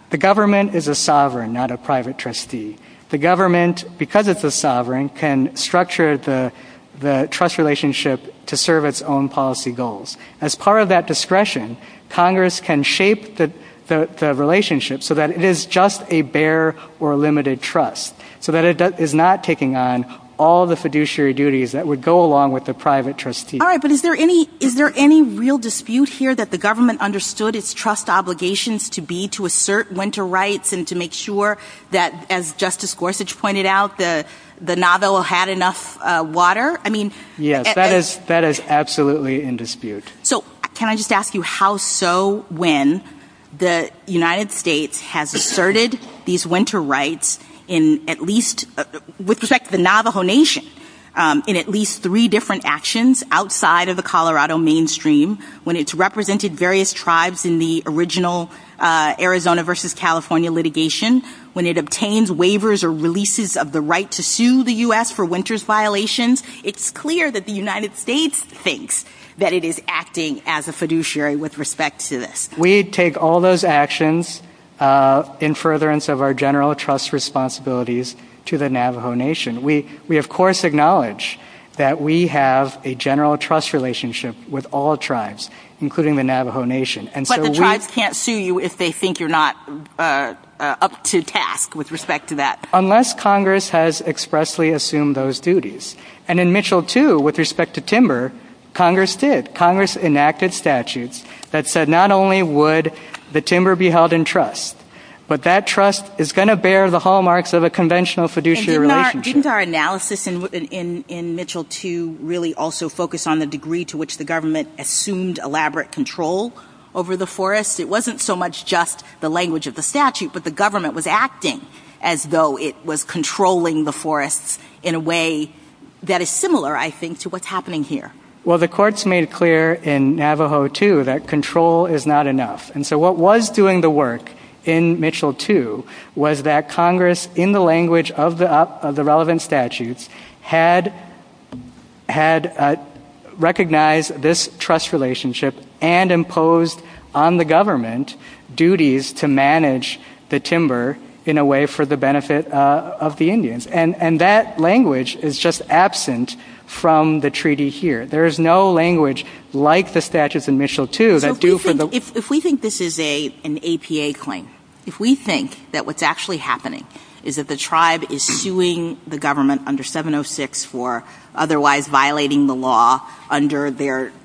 The government is a sovereign, not a private trustee. The government, because it's a sovereign, can structure the trust relationship to serve its own policy goals. As part of that discretion, Congress can shape the relationship so that it is just a bare or limited trust, so that it is not taking on all the fiduciary duties that would go along with the private trustee. All right, but is there any real dispute here that the government understood its trust obligations to be to assert winter rights and to make sure that, as Justice Gorsuch pointed out, the Navajo had enough water? I mean... Yes, that is absolutely in dispute. So can I just ask you how so when the United States has asserted these winter rights in at least, with respect to the Navajo Nation, in at least three different actions outside of the Colorado mainstream, when it's represented various tribes in the original Arizona versus California litigation, when it obtains waivers or releases of the right to sue the U.S. for winters violations, it's clear that the United States thinks that it is acting as a fiduciary with respect to this. We take all those actions in furtherance of our general trust responsibilities to the Navajo Nation. We of course acknowledge that we have a general trust relationship with all tribes, including the Navajo Nation. But the tribes can't sue you if they think you're not up to task with respect to that. Unless Congress has expressly assumed those duties. And in Mitchell 2, with respect to timber, Congress did. Congress enacted statutes that said not only would the timber be held in trust, but that trust is going to bear the hallmarks of a conventional fiduciary relationship. Didn't our analysis in Mitchell 2 really also focus on the degree to which the government assumed elaborate control over the forest? It wasn't so much just the language of the statute, but the government was acting as though it was controlling the forest in a way that is similar, I think, to what's happening here. Well, the courts made clear in Navajo 2 that control is not enough. And so what was doing the work in Mitchell 2 was that Congress, in the language of the relevant statutes, had recognized this trust relationship and imposed on the government duties to manage the timber in a way for the benefit of the Indians. And that language is just absent from the treaty here. There is no language like the statutes in Mitchell 2 that do for the... If we think this is an APA claim, if we think that what's actually happening is that the tribe is suing the government under 706 for otherwise violating the law under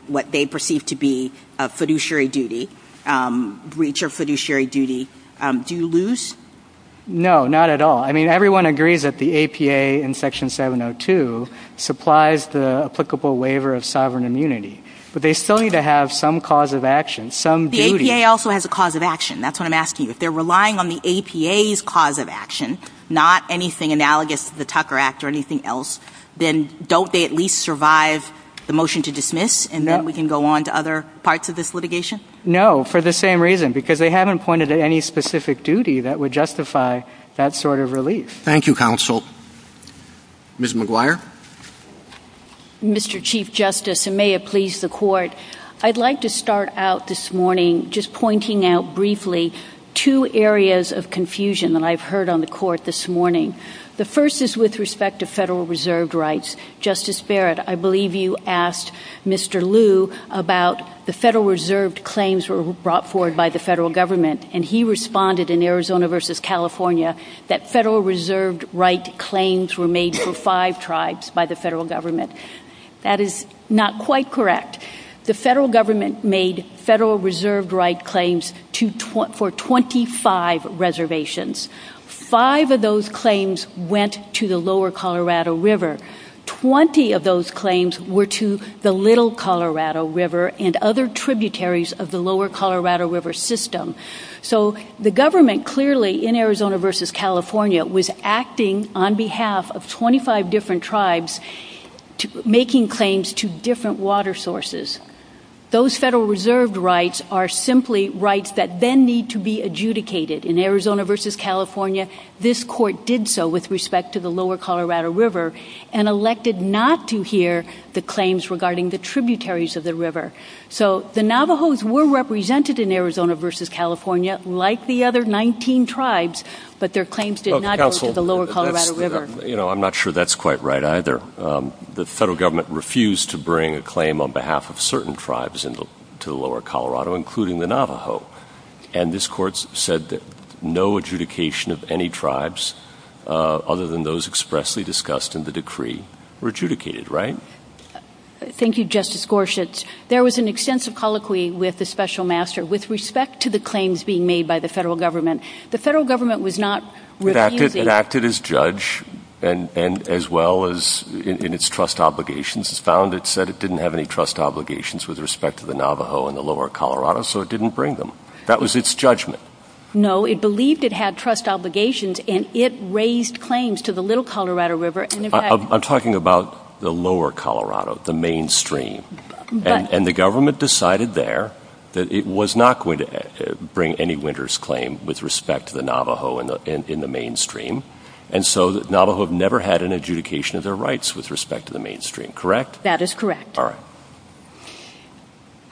what they perceive to be a fiduciary duty, breach of fiduciary duty, do you lose? No, not at all. I mean, everyone agrees that the APA in Section 702 supplies the applicable waiver of sovereign immunity, but they still need to have some cause of action, some duty... The APA also has a cause of action. That's what I'm asking. If they're relying on the APA's cause of action, not anything analogous to the Tucker Act or anything else, then don't they at least survive the motion to dismiss, and then we can go on to other parts of this litigation? No, for the same reason, because they haven't pointed to any specific duty that would justify that sort of relief. Thank you, Counsel. Ms. McGuire? Mr. Chief Justice, and may it please the Court, I'd like to start out this morning just pointing out briefly two areas of confusion that I've heard on the Court this morning. The first is with respect to Federal Reserved Rights. Justice Barrett, I believe you asked Mr. Liu about the Federal Reserved Claims were brought forward by the Federal Government, and he responded in Arizona versus California that Federal Reserved Right claims were made for five tribes by the Federal Government. That is not quite correct. The Federal Government made Federal Reserved Right claims for 25 reservations. Five of those claims went to the lower Colorado River. Twenty of those claims were to the Little Colorado River and other tributaries of the lower Colorado River system. So the Government clearly in Arizona versus California was acting on behalf of 25 different tribes, making claims to different water sources. Those Federal Reserved Rights are simply rights that then need to be adjudicated. In Arizona versus California, this Court did so with respect to the lower Colorado River and elected not to hear the claims regarding the tributaries of the river. So the Navajos were represented in Arizona versus California like the other 19 tribes, but their claims did not go to the lower Colorado River. You know, I'm not sure that's quite right either. The Federal Government refused to bring a claim on behalf of certain tribes into the lower Colorado, including the Navajo, and this Court said that no adjudication of any tribes other than those expressly discussed in the decree were adjudicated. Right? Thank you, Justice Gorsuch. There was an extensive colloquy with the Special Master with respect to the claims being made by the Federal Government. The Federal Government was not It acted as judge and as well as in its trust obligations. It found it said it didn't have any trust obligations with respect to the Navajo and the lower Colorado, so it didn't bring them. That was its judgment. No, it believed it had trust obligations and it raised claims to the little Colorado River. I'm talking about the lower Colorado, the mainstream, and the Government decided there that it was not going to bring any winner's claim with respect to the Navajo in the mainstream, and so the Navajo have never had an adjudication of their rights with respect to the mainstream. Correct? That is correct. All right.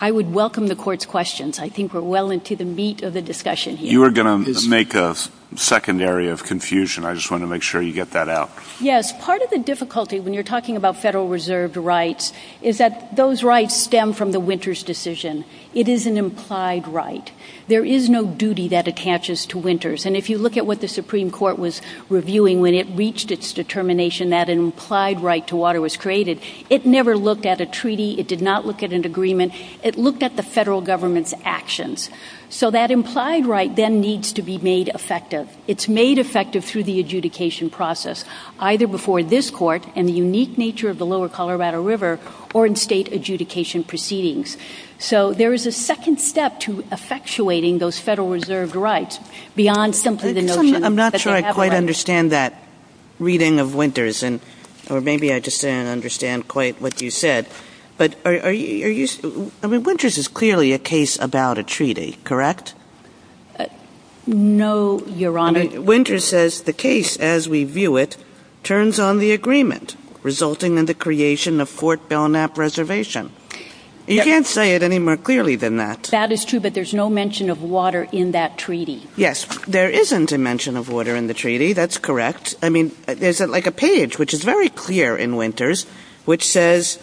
I would welcome the Court's questions. I think we're well into the meat of the discussion here. You were going to make a secondary of confusion. I just want to make sure you get that out. Yes, part of the difficulty when you're talking about Federal Reserve rights is that those rights stem from the Winters decision. It is an implied right. There is no duty that attaches to Winters, and if you look at what the Supreme Court was reviewing when it reached its determination that an implied right to water was created, it never looked at a treaty. It did not look at an agreement. It looked at the Federal Government's actions, so that implied right then needs to be made effective. It's made effective through the adjudication process, either before this Court and the unique nature of the lower there is a second step to effectuating those Federal Reserve rights beyond simply the notion I'm not sure I quite understand that reading of Winters, or maybe I just didn't understand quite what you said, but I mean, Winters is clearly a case about a treaty, correct? No, Your Honor. I mean, Winters says the case as we view it turns on the agreement resulting in creation of Fort Belknap Reservation. You can't say it any more clearly than that. That is true, but there's no mention of water in that treaty. Yes, there isn't a mention of water in the treaty. That's correct. I mean, there's like a page, which is very clear in Winters, which says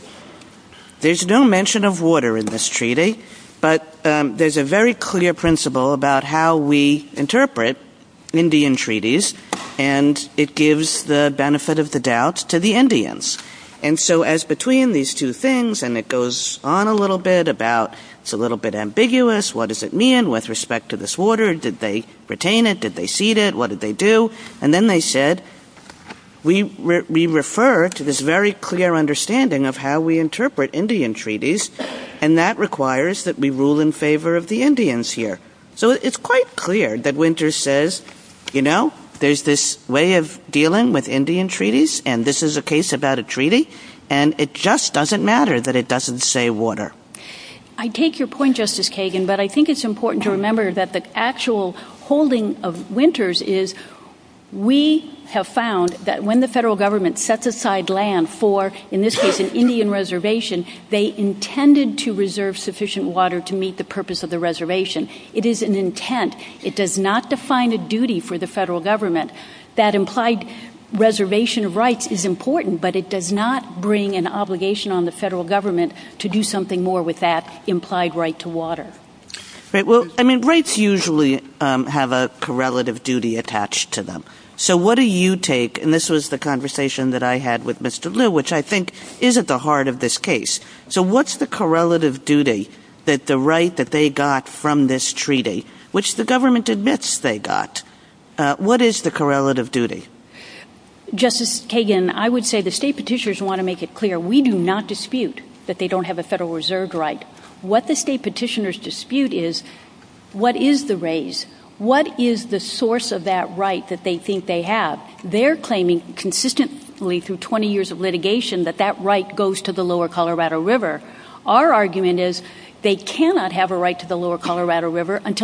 there's no mention of water in this treaty, but there's a very clear principle about how we interpret Indian treaties, and it so as between these two things, and it goes on a little bit about it's a little bit ambiguous, what does it mean with respect to this water? Did they retain it? Did they cede it? What did they do? And then they said, we refer to this very clear understanding of how we interpret Indian treaties, and that requires that we rule in favor of the Indians here. So it's quite clear that Winters says, you know, there's this way of dealing with Indian treaties, and this is a case about a treaty, and it just doesn't matter that it doesn't say water. I take your point, Justice Kagan, but I think it's important to remember that the actual holding of Winters is we have found that when the federal government sets aside land for, in this case, an Indian reservation, they intended to reserve sufficient water to meet the purpose of the reservation. It is an intent. It does not define a duty for the federal government. That implied reservation of rights is important, but it does not bring an obligation on the federal government to do something more with that implied right to water. Right. Well, I mean, rights usually have a correlative duty attached to them. So what do you take, and this was the conversation that I had with Mr. Liu, which I think is at the heart of this case. So what's the correlative duty that the right that they got from this treaty, which the government admits they got, what is the correlative duty? Justice Kagan, I would say the state petitioners want to make it clear, we do not dispute that they don't have a federal reserve right. What the state petitioners dispute is, what is the race? What is the source of that right that they think they have? They're claiming consistently through 20 years of litigation that that right goes to the lower Colorado River until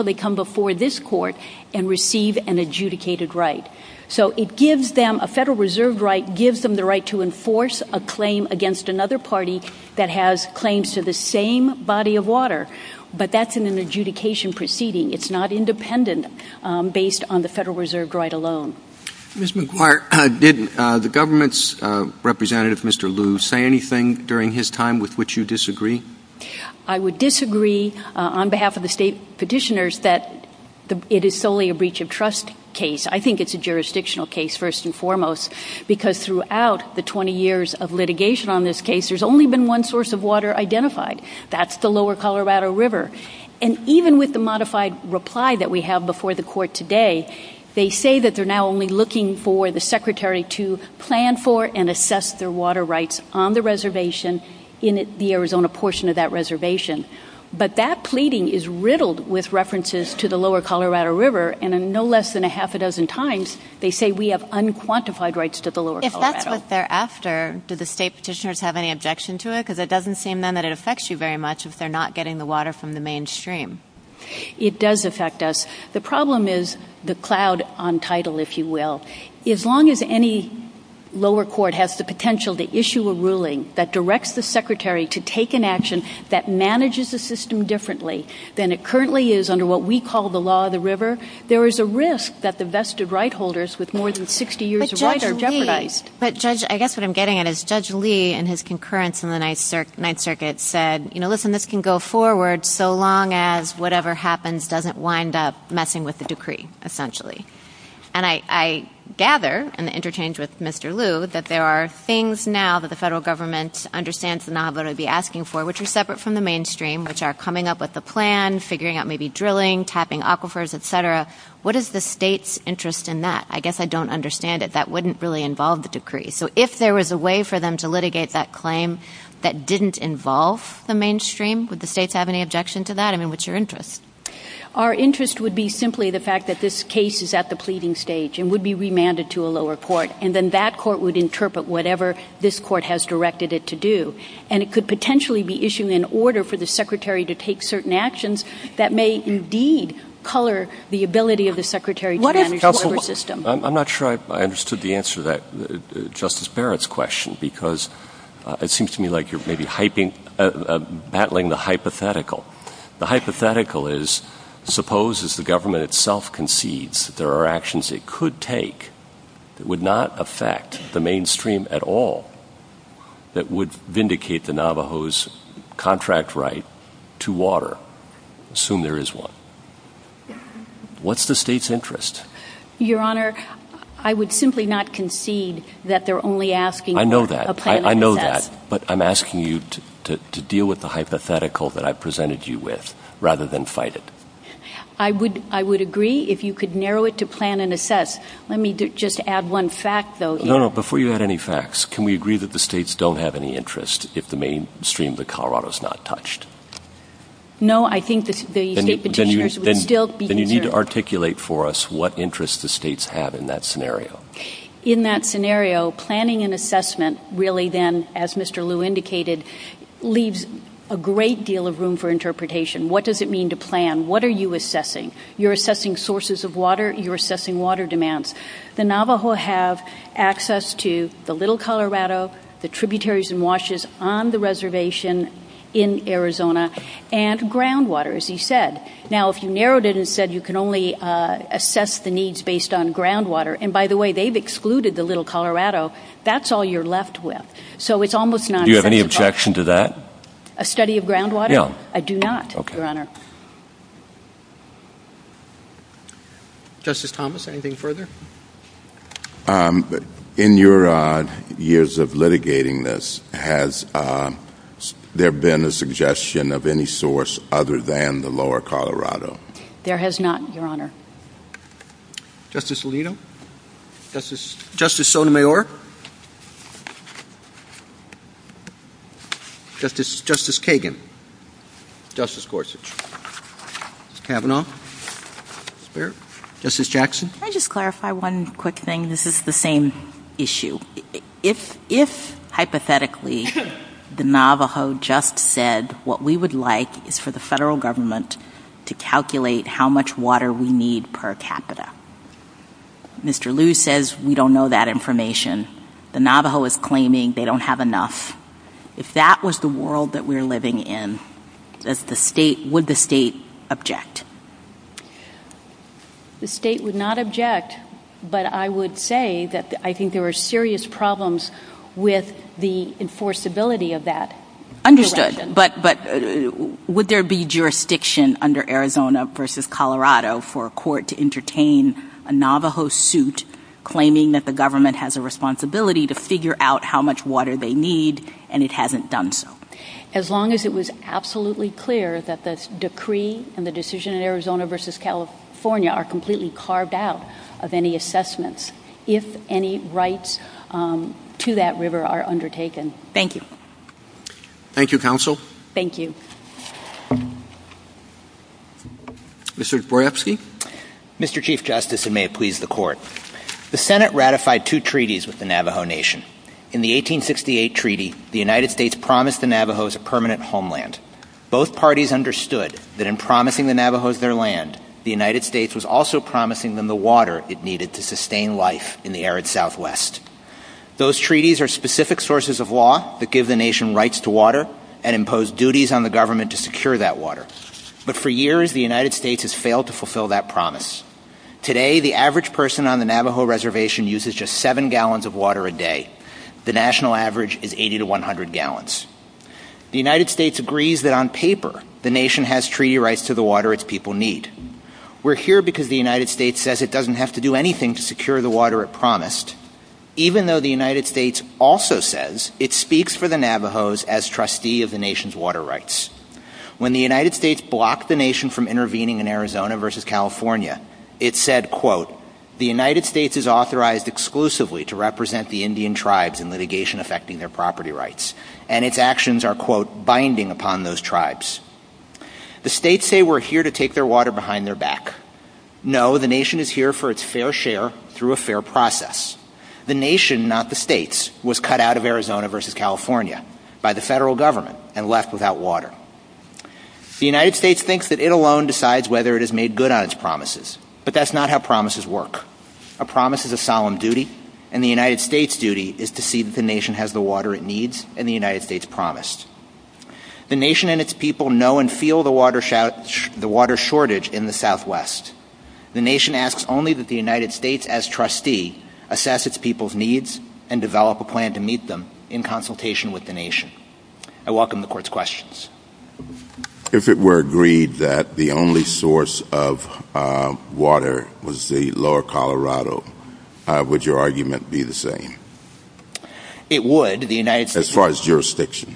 they come before this court and receive an adjudicated right. So it gives them a federal reserve right, gives them the right to enforce a claim against another party that has claims to the same body of water. But that's an adjudication proceeding. It's not independent based on the federal reserve right alone. Ms. McGuire, did the government's representative, Mr. Liu, say anything during his time with which you disagree? I would disagree on behalf of the state petitioners that it is solely a breach of trust case. I think it's a jurisdictional case, first and foremost, because throughout the 20 years of litigation on this case, there's only been one source of water identified. That's the lower Colorado River. And even with the modified reply that we have before the court today, they say that they're now only looking for the secretary to plan for and assess their water on the reservation in the Arizona portion of that reservation. But that pleading is riddled with references to the lower Colorado River. And no less than a half a dozen times, they say we have unquantified rights to the lower Colorado. If that's what they're after, do the state petitioners have any objection to it? Because it doesn't seem then that it affects you very much if they're not getting the water from the mainstream. It does affect us. The problem is the cloud on title, if you will. As long as any lower court has the potential to issue a ruling that directs the secretary to take an action that manages the system differently than it currently is under what we call the law of the river, there is a risk that the vested right holders with more than 60 years are jeopardized. But I guess what I'm getting at is Judge Lee and his concurrence in the Ninth Circuit said, you know, listen, this can go forward so long as whatever happens doesn't wind up messing with the There are things now that the federal government understands and I'm going to be asking for, which are separate from the mainstream, which are coming up with the plan, figuring out maybe drilling, tapping aquifers, etc. What is the state's interest in that? I guess I don't understand it. That wouldn't really involve the decree. So if there was a way for them to litigate that claim that didn't involve the mainstream, would the states have any objection to that? I mean, what's your interest? Our interest would be simply the fact that this case is at the pleading stage and would be demanded to a lower court and then that court would interpret whatever this court has directed it to do. And it could potentially be issued in order for the secretary to take certain actions that may indeed color the ability of the secretary. I'm not sure I understood the answer that Justice Barrett's question because it seems to me like you're maybe hyping, battling the hypothetical. The hypothetical is, suppose as the government itself concedes there are actions it could take, it would not affect the mainstream at all that would vindicate the Navajos' contract right to water. Assume there is one. What's the state's interest? Your Honor, I would simply not concede that they're only asking— I know that. I know that. But I'm asking you to deal with the hypothetical that I've presented you with rather than fight it. I would agree if you could narrow it to plan and assess. Let me just add one fact, though— No, no. Before you add any facts, can we agree that the states don't have any interest if the mainstream of Colorado is not touched? No, I think the state— Then you need to articulate for us what interest the states have in that scenario. In that scenario, planning and assessment really then, as Mr. Liu indicated, leaves a great deal of room for interpretation. What does it mean to plan? What are you assessing? You're assessing sources of water. You're assessing water demands. The Navajo have access to the Little Colorado, the tributaries and washes on the reservation in Arizona, and groundwater, as he said. Now, if you narrowed it and said you can only assess the needs based on groundwater—and by the way, they've excluded the Little Colorado—that's all you're left with. So it's almost not— Do you have any objection to that? A study of groundwater? No. I do not, Your Honor. Justice Thomas, anything further? In your years of litigating this, has there been a suggestion of any source other than the Lower Colorado? There has not, Your Honor. Justice Alito? Justice Sotomayor? Justice Kagan? Justice Gorsuch? Justice Kavanaugh? Justice Jackson? Can I just clarify one quick thing? This is the same issue. If, hypothetically, the Navajo just said, what we would like is for the federal government to calculate how much water we need per capita. Mr. Liu says we don't know that information. The Navajo is claiming they don't have enough. If that was the world that we're living in, would the state object? The state would not object, but I would say that I think there were serious problems with the enforceability of that. Understood. But would there be jurisdiction under Arizona v. Colorado for a court to entertain a Navajo suit claiming that the government has a responsibility to figure out how much water they need, and it hasn't done so? As long as it was absolutely clear that the decree and the decision in Arizona v. California are completely carved out of any assessments, if any rights to that river are undertaken. Thank you. Thank you, Counsel. Thank you. Mr. Dworawski? Mr. Chief Justice, and may it please the Court. The Senate ratified two treaties with the Navajo Nation. In the 1868 treaty, the United States promised the Navajos a permanent homeland. Both parties understood that in promising the Navajos their land, the United States was also promising them the water it needed to sustain life in the arid Southwest. Those treaties are specific sources of law that give the nation rights to water and impose duties on the government to secure that water. But for years, the United States has failed to fulfill that promise. Today, the average person on the Navajo reservation uses just seven gallons of water a day. The national average is 80 to 100 gallons. The United States agrees that on paper, the nation has treaty rights to the water its people need. We're here because the United States says it doesn't have to do anything to secure the water it promised, even though the United States also says it speaks for the Navajos as trustee of nation's water rights. When the United States blocked the nation from intervening in Arizona v. California, it said, quote, the United States is authorized exclusively to represent the Indian tribes in litigation affecting their property rights, and its actions are, quote, binding upon those tribes. The states say we're here to take their water behind their back. No, the nation is here for its fair share through a fair process. The nation, not the states, was cut out of Arizona v. California by the federal government and left without water. The United States thinks that it alone decides whether it has made good on its promises, but that's not how promises work. A promise is a solemn duty, and the United States' duty is to see that the nation has the water it needs and the United States promised. The nation and its people know and feel the water shortage in the Southwest. The nation asks only that the United States, as trustee, assess its people's plan to meet them in consultation with the nation. I welcome the court's questions. If it were agreed that the only source of water was the lower Colorado, would your argument be the same? It would. As far as jurisdiction?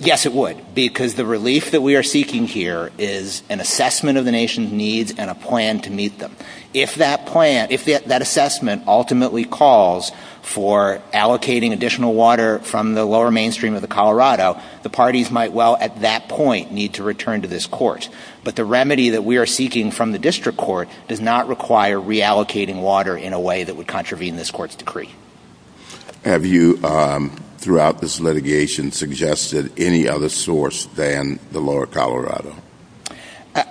Yes, it would, because the relief that we are seeking here is an assessment of the nation's needs and a plan to meet them. If that assessment ultimately calls for allocating additional water from the lower mainstream of the Colorado, the parties might well, at that point, need to return to this court. But the remedy that we are seeking from the district court does not require reallocating water in a way that would contravene this court's decree. Have you, throughout this litigation, suggested any other source than the lower Colorado?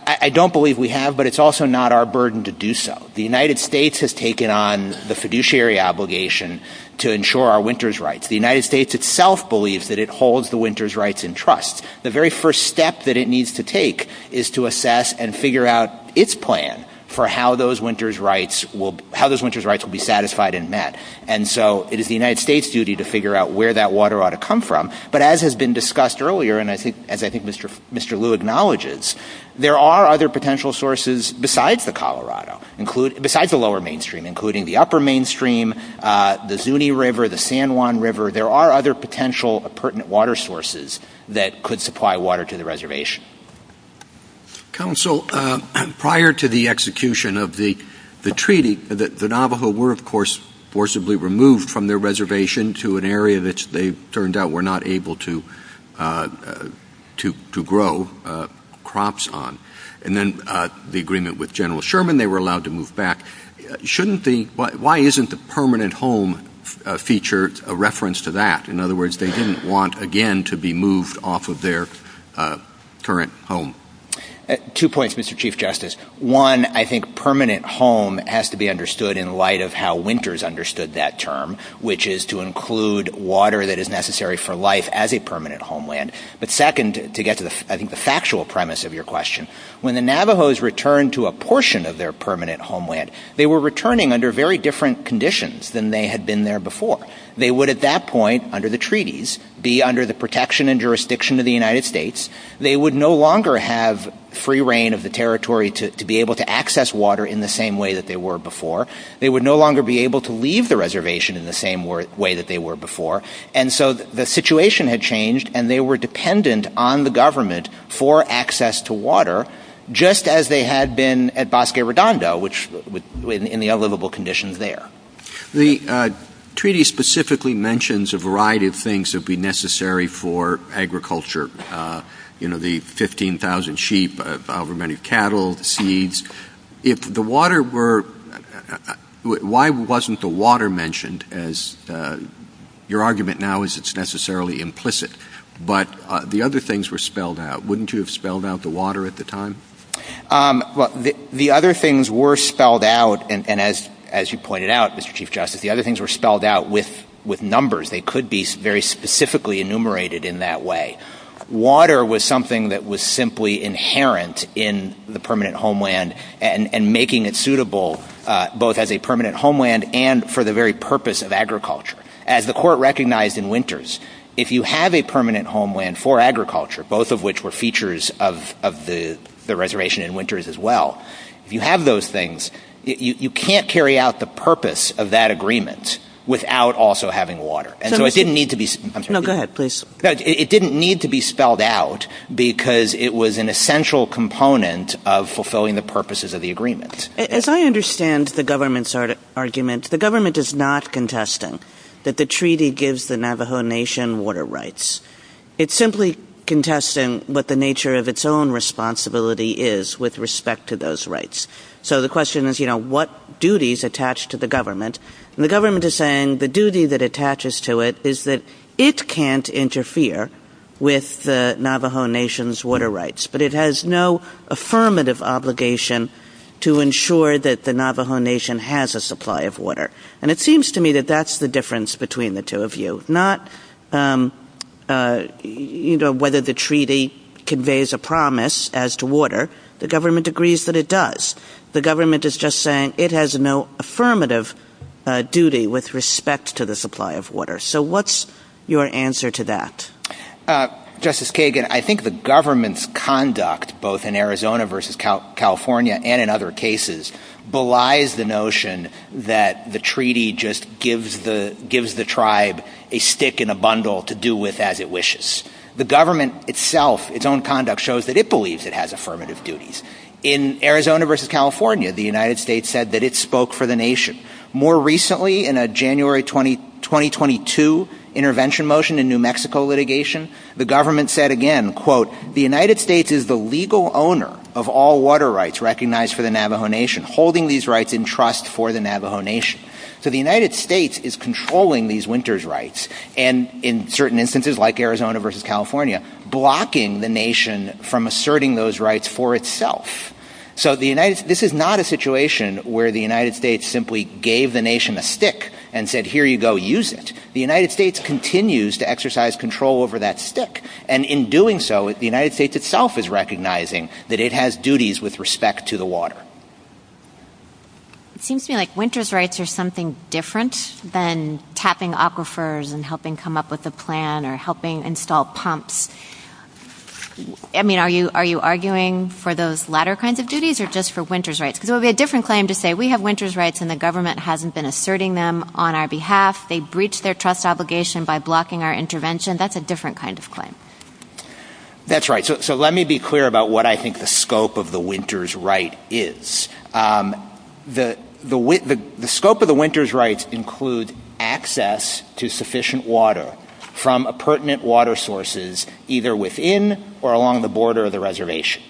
I don't believe we have, but it's also not our burden to do so. The United States has taken on the fiduciary obligation to ensure our winters' rights. The United States itself believes that it holds the winters' rights in trust. The very first step that it needs to take is to assess and figure out its plan for how those winters' rights will be satisfied and met. So it is the United States' duty to figure out where that water ought to come from. But as has been discussed earlier, and as I think Mr. Liu acknowledges, there are other potential sources besides the Colorado, besides the lower mainstream, including the upper mainstream, the Zuni River, the San Juan River. There are other potential pertinent water sources that could supply water to the reservation. Counsel, prior to the execution of the treaty, the Navajo were, of course, forcibly removed from their reservation to an area that they turned out were not able to grow crops on. And then the agreement with General Sherman, they were allowed to move back. Why isn't the permanent home feature a reference to that? In other words, they didn't want, again, to be moved off of their current home. Two points, Mr. Chief Justice. One, I think winters understood that term, which is to include water that is necessary for life as a permanent homeland. But second, to get to the factual premise of your question, when the Navajos returned to a portion of their permanent homeland, they were returning under very different conditions than they had been there before. They would at that point, under the treaties, be under the protection and jurisdiction of the United States. They would no longer have free reign of the territory to be able to access water in the same way that they were before. They would no longer be able to leave the reservation in the same way that they were before. And so the situation had changed and they were dependent on the government for access to water, just as they had been at Bosque Redondo, which was in the unlivable conditions there. The treaty specifically mentions a variety of things that would be necessary for agriculture. You know, the 15,000 sheep, however many cattle, seeds. If the water were, why wasn't the water mentioned as your argument now is it's necessarily implicit, but the other things were spelled out. Wouldn't you have spelled out the water at the time? Well, the other things were spelled out. And as you pointed out, Mr. Chief Justice, the other things were spelled out with numbers. They could be very specifically enumerated in that way. Water was something that was simply inherent in the permanent homeland and making it suitable, both as a permanent homeland and for the very purpose of agriculture. As the court recognized in Winters, if you have a permanent homeland for agriculture, both of which were features of the reservation in Winters as well, if you have those things, you can't carry out the purpose of that agreement without also having water. And so it didn't need to be. No, go ahead, please. It didn't need to be spelled out because it was an essential component of fulfilling the purposes of the agreement. If I understand the government's argument, the government is not contesting that the treaty gives the Navajo Nation water rights. It's simply contesting what the nature of its own responsibility is with respect to those rights. So the question is, you know, what duties attach to the government? And the government is saying the duty that attaches to it is that it can't interfere with the Navajo Nation's water rights, but it has no affirmative obligation to ensure that the Navajo Nation has a supply of water. And it seems to me that that's the difference between the two of you, not, you know, whether the treaty conveys a promise as to water, the government agrees that it does. The government is just saying it has no affirmative duty with respect to the supply of water. So what's your answer to that? Justice Kagan, I think the government's conduct, both in Arizona versus California, and in other cases, belies the notion that the treaty just gives the tribe a stick and a bundle to do with as it wishes. The government itself, its own conduct shows that it believes it has affirmative duties. In Arizona versus California, the United States said that it spoke for the nation. More recently, in a January 2022 intervention motion in New Mexico litigation, the government said again, quote, the United States is the legal owner of all water rights recognized for the Navajo Nation, holding these rights in trust for the Navajo Nation. So the United States is controlling these winters rights. And in certain instances, like Arizona versus California, blocking the nation from asserting those rights for itself. So the United States, this is not a situation where the United States simply gave the nation a stick and said, here you go, use it. The United States continues to exercise control over that stick. And in doing so, the United States itself is recognizing that it has duties with respect to the water. It seems to me like winter's rights are something different than tapping aquifers and helping come up with a plan or helping install pumps. I mean, are you are you arguing for those latter kinds of duties or just for winter's rights? There will be a different claim to say we have winter's rights and the government hasn't been asserting them on our behalf. They breach their trust obligation by blocking our intervention. That's a different kind of claim. That's right. So let me be clear about what I think the scope of the winter's is. The scope of the winter's rights include access to sufficient water from a pertinent water sources, either within or along the border of the reservation.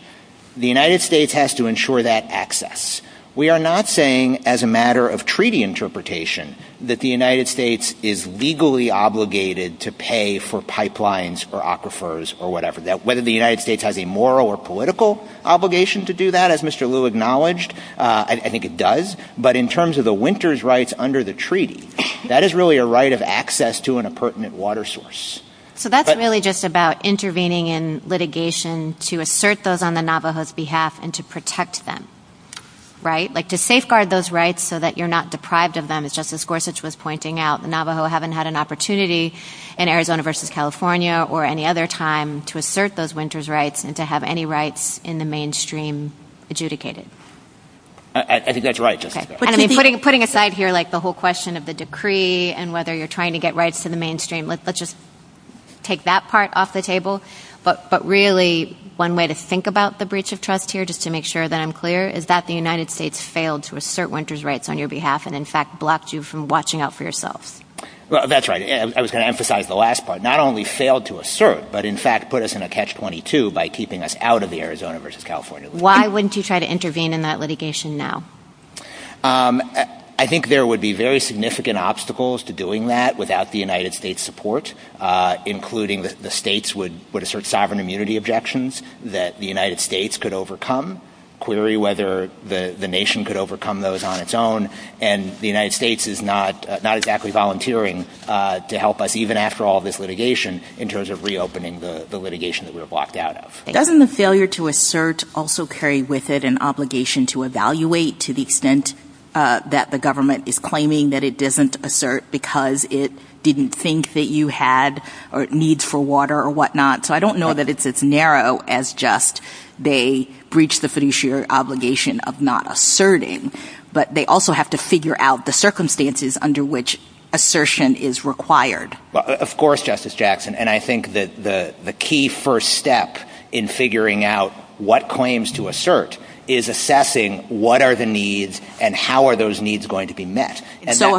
The United States has to ensure that access. We are not saying as a matter of treaty interpretation that the United States is legally obligated to pay for pipelines or aquifers or whatever that whether the United States has a moral or political obligation to do that, as Mr. Liu acknowledged. I think it does. But in terms of the winter's rights under the treaty, that is really a right of access to an appurtenant water source. So that's really just about intervening in litigation to assert those on the Navajo's behalf and to protect them, right? Like to safeguard those rights so that you're not deprived of them. As Justice Gorsuch was pointing out, the Navajo haven't had an opportunity in to have any rights in the mainstream adjudicated. I think that's right. Putting aside here the whole question of the decree and whether you're trying to get rights to the mainstream, let's just take that part off the table. But really one way to think about the breach of trust here, just to make sure that I'm clear, is that the United States failed to assert winter's rights on your behalf and in fact blocked you from watching out for yourself. That's right. I was going to emphasize the last part. Not only failed to assert, but in fact put us in a catch-22 by keeping us out of the Arizona versus California. Why wouldn't you try to intervene in that litigation now? I think there would be very significant obstacles to doing that without the United States support, including that the states would assert sovereign immunity objections that the United States could overcome, query whether the nation could overcome those on its own. And the United States is not the litigation that we were blocked out of. Doesn't the failure to assert also carry with it an obligation to evaluate to the extent that the government is claiming that it doesn't assert because it didn't think that you had or needs for water or whatnot. So I don't know that it's as narrow as just they breach the fiduciary obligation of not asserting, but they also have to figure out the circumstances under which assertion is required. Of course, Justice Jackson. And I think that the key first step in figuring out what claims to assert is assessing what are the needs and how are those needs going to be met? And so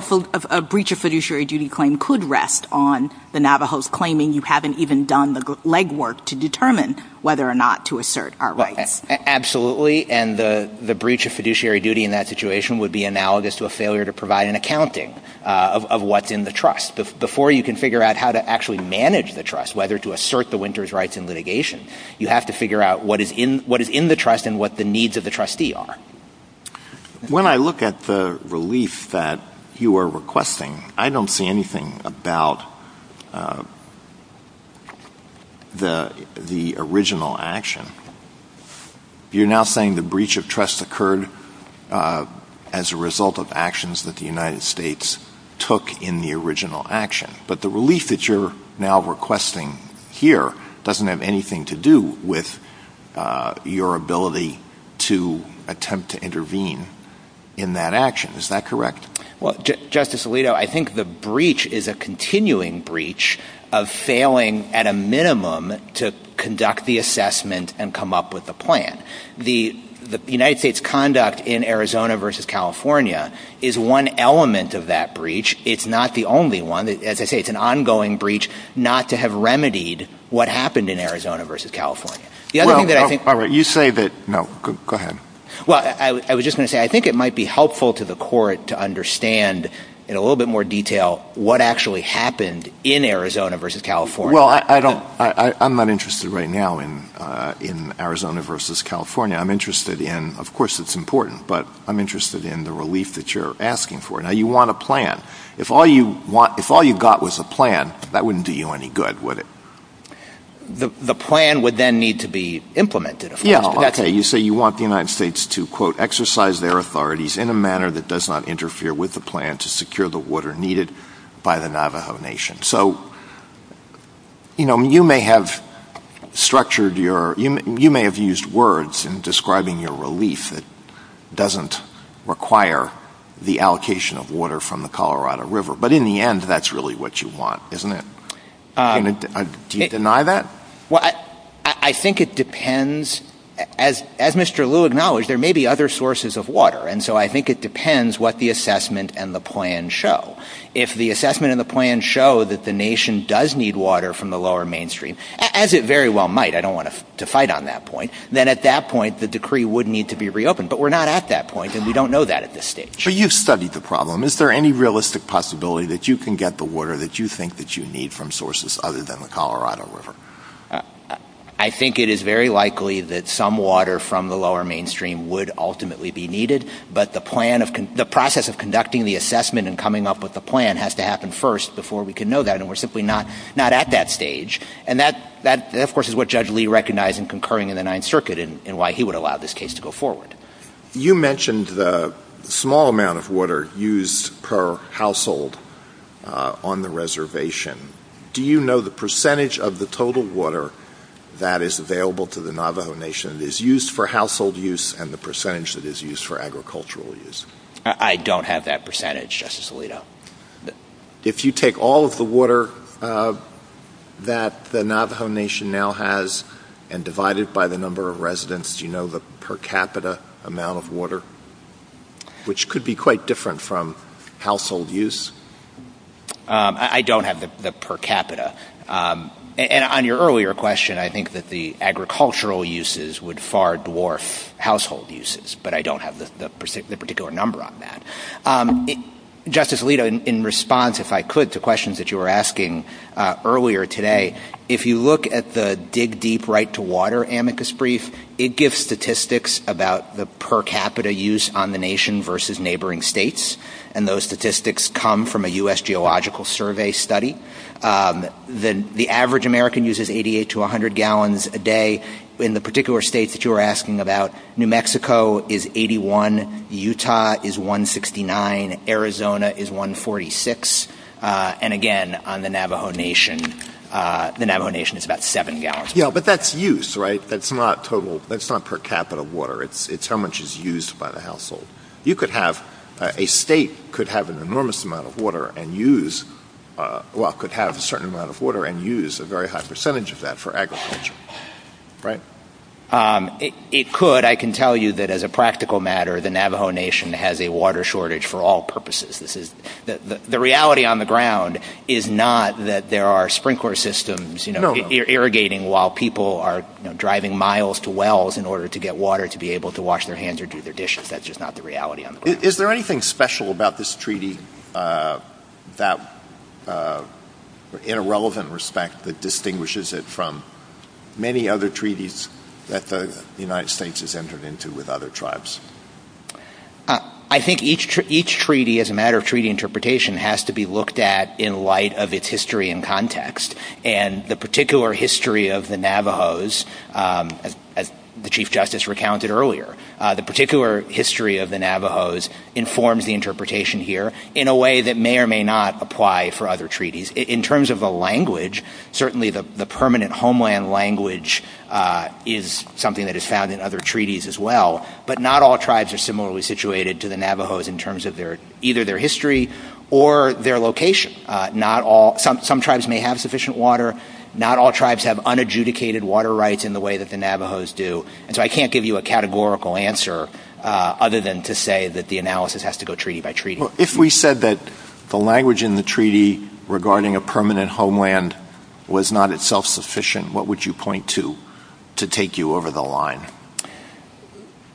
a breach of fiduciary duty claim could rest on the Navajos claiming you haven't even done the legwork to determine whether or not to assert our rights. Absolutely. And the breach of fiduciary duty in that situation would be analogous to a failure to provide an accounting of what's in the trust. Before you can figure out how to actually manage the trust, whether to assert the winter's rights in litigation, you have to figure out what is in the trust and what the needs of the trustee are. When I look at the relief that you are requesting, I don't see anything about the original action. You're now saying the breach of trust occurred as a result of actions that the United States took in the original action. But the relief that you're now requesting here doesn't have anything to do with your ability to attempt to intervene in that action. Is that correct? Well, Justice Alito, I think the breach is a continuing breach of failing at a minimum to the United States conduct in Arizona versus California is one element of that breach. It's not the only one. As I say, it's an ongoing breach not to have remedied what happened in Arizona versus California. I was just going to say, I think it might be helpful to the court to understand in a little bit more detail what actually happened in Arizona versus California. I'm not interested right now in Arizona versus California. Of course, it's important, but I'm interested in the relief that you're asking for. Now, you want a plan. If all you got was a plan, that wouldn't do you any good, would it? The plan would then need to be implemented. Yeah, okay. You say you want the United States to, quote, exercise their authorities in a manner that does not interfere with the plan to secure the water needed by the Navajo Nation. So, you may have structured your... You may have used words in describing your relief that doesn't require the allocation of water from the Colorado River, but in the end, that's really what you want, isn't it? Do you deny that? Well, I think it depends. As Mr. Liu acknowledged, there may be other sources of water. And so, I think it depends what the assessment and the plan show. If the assessment and the plan show that the nation does need water from the lower mainstream, as it very well might, I don't want to fight on that point, then at that point, the decree would need to be reopened. But we're not at that point, and we don't know that at this stage. So, you've studied the problem. Is there any realistic possibility that you can get the water that you think that you need from sources other than the Colorado River? I think it is very likely that some water from the lower mainstream would ultimately be needed, but the process of conducting the assessment and coming up with the plan show that, and we're simply not at that stage. And that, of course, is what Judge Liu recognized in concurring in the Ninth Circuit and why he would allow this case to go forward. You mentioned the small amount of water used per household on the reservation. Do you know the percentage of the total water that is available to the Navajo Nation that is used for household use and the percentage that is used for agricultural use? I don't have that percentage, Justice Alito. If you take all of the water that the Navajo Nation now has and divide it by the number of residents, do you know the per capita amount of water, which could be quite different from household use? I don't have the per capita. And on your earlier question, I think that the agricultural uses would far dwarf household uses, but I don't have the particular number on that. Justice Alito, in response, if I could, to questions that you were asking earlier today, if you look at the Dig Deep Right to Water amicus brief, it gives statistics about the per capita use on the nation versus neighboring states. And those statistics come from a U.S. geological survey study. The average American uses 88 to 100 gallons a day. In the particular states that you were asking about, New Mexico is 81. Utah is 169. Arizona is 146. And again, on the Navajo Nation, the Navajo Nation is about seven gallons. Yeah, but that's use, right? That's not per capita water. It's how much is used by the household. A state could have an enormous amount of water and use, well, could have a certain amount of water and use a very high It could. I can tell you that as a practical matter, the Navajo Nation has a water shortage for all purposes. The reality on the ground is not that there are sprinkler systems irrigating while people are driving miles to wells in order to get water to be able to wash their hands or do their dishes. That's just not the reality. Is there anything special about this entered into with other tribes? I think each treaty, as a matter of treaty interpretation, has to be looked at in light of its history and context. And the particular history of the Navajos, as the Chief Justice recounted earlier, the particular history of the Navajos informs the interpretation here in a way that may or may not apply for other treaties. In terms of the permanent homeland language is something that is found in other treaties as well. But not all tribes are similarly situated to the Navajos in terms of either their history or their location. Some tribes may have sufficient water. Not all tribes have unadjudicated water rights in the way that the Navajos do. And so I can't give you a categorical answer other than to say that the analysis has to go treaty by treaty. If we said that the language in the treaty regarding a what would you point to to take you over the line?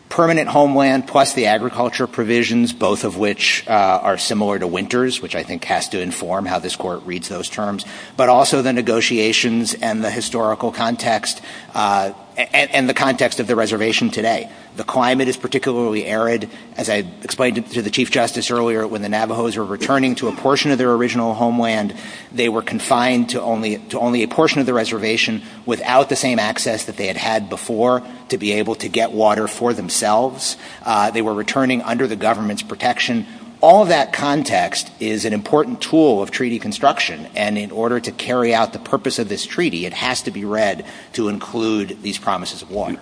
Permanent homeland plus the agriculture provisions, both of which are similar to winters, which I think has to inform how this court reads those terms, but also the negotiations and the historical context and the context of the reservation today. The climate is particularly arid. As I explained to the Chief Justice earlier, when the Navajos are returning to a portion of their original homeland, they were confined to only a portion of the reservation without the same access that they had had before to be able to get water for themselves. They were returning under the government's protection. All that context is an important tool of treaty construction. And in order to carry out the purpose of this treaty, it has to be read to include these promises of water.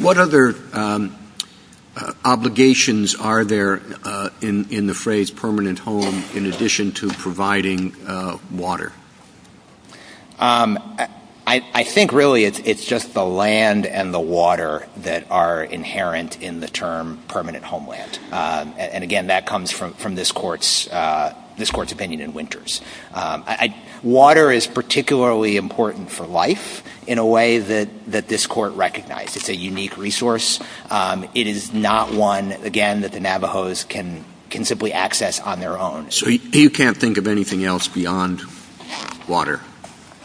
What other obligations are there in the phrase permanent home in addition to providing water? I think really it's just the land and the water that are inherent in the term permanent homeland. And again, that comes from this court's opinion in winters. Water is particularly important for life in a way that this court recognized. It's a unique resource. It is not one, again, that the Navajos can simply access on their own. So you can't think of anything else beyond water,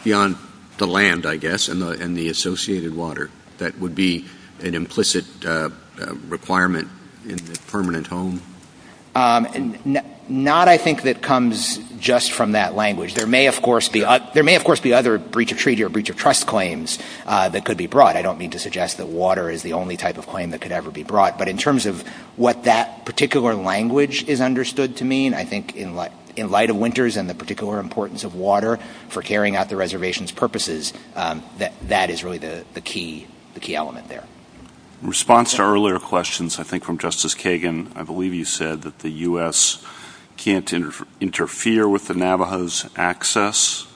beyond the land, I guess, and the associated water that would be an implicit requirement in the permanent home? Not, I think, that comes just from that language. There may, of course, be other breach of treaty or breach of trust claims that could be brought. I don't mean to suggest that water is the only type of claim that could ever be brought. But in terms of what that particular language is understood to mean, I think in light of winters and the particular importance of water for carrying out the reservation's purposes, that is really the key element there. In response to earlier questions, I think from Justice Kagan, I believe you said that the U.S. can't interfere with the Navajos' access,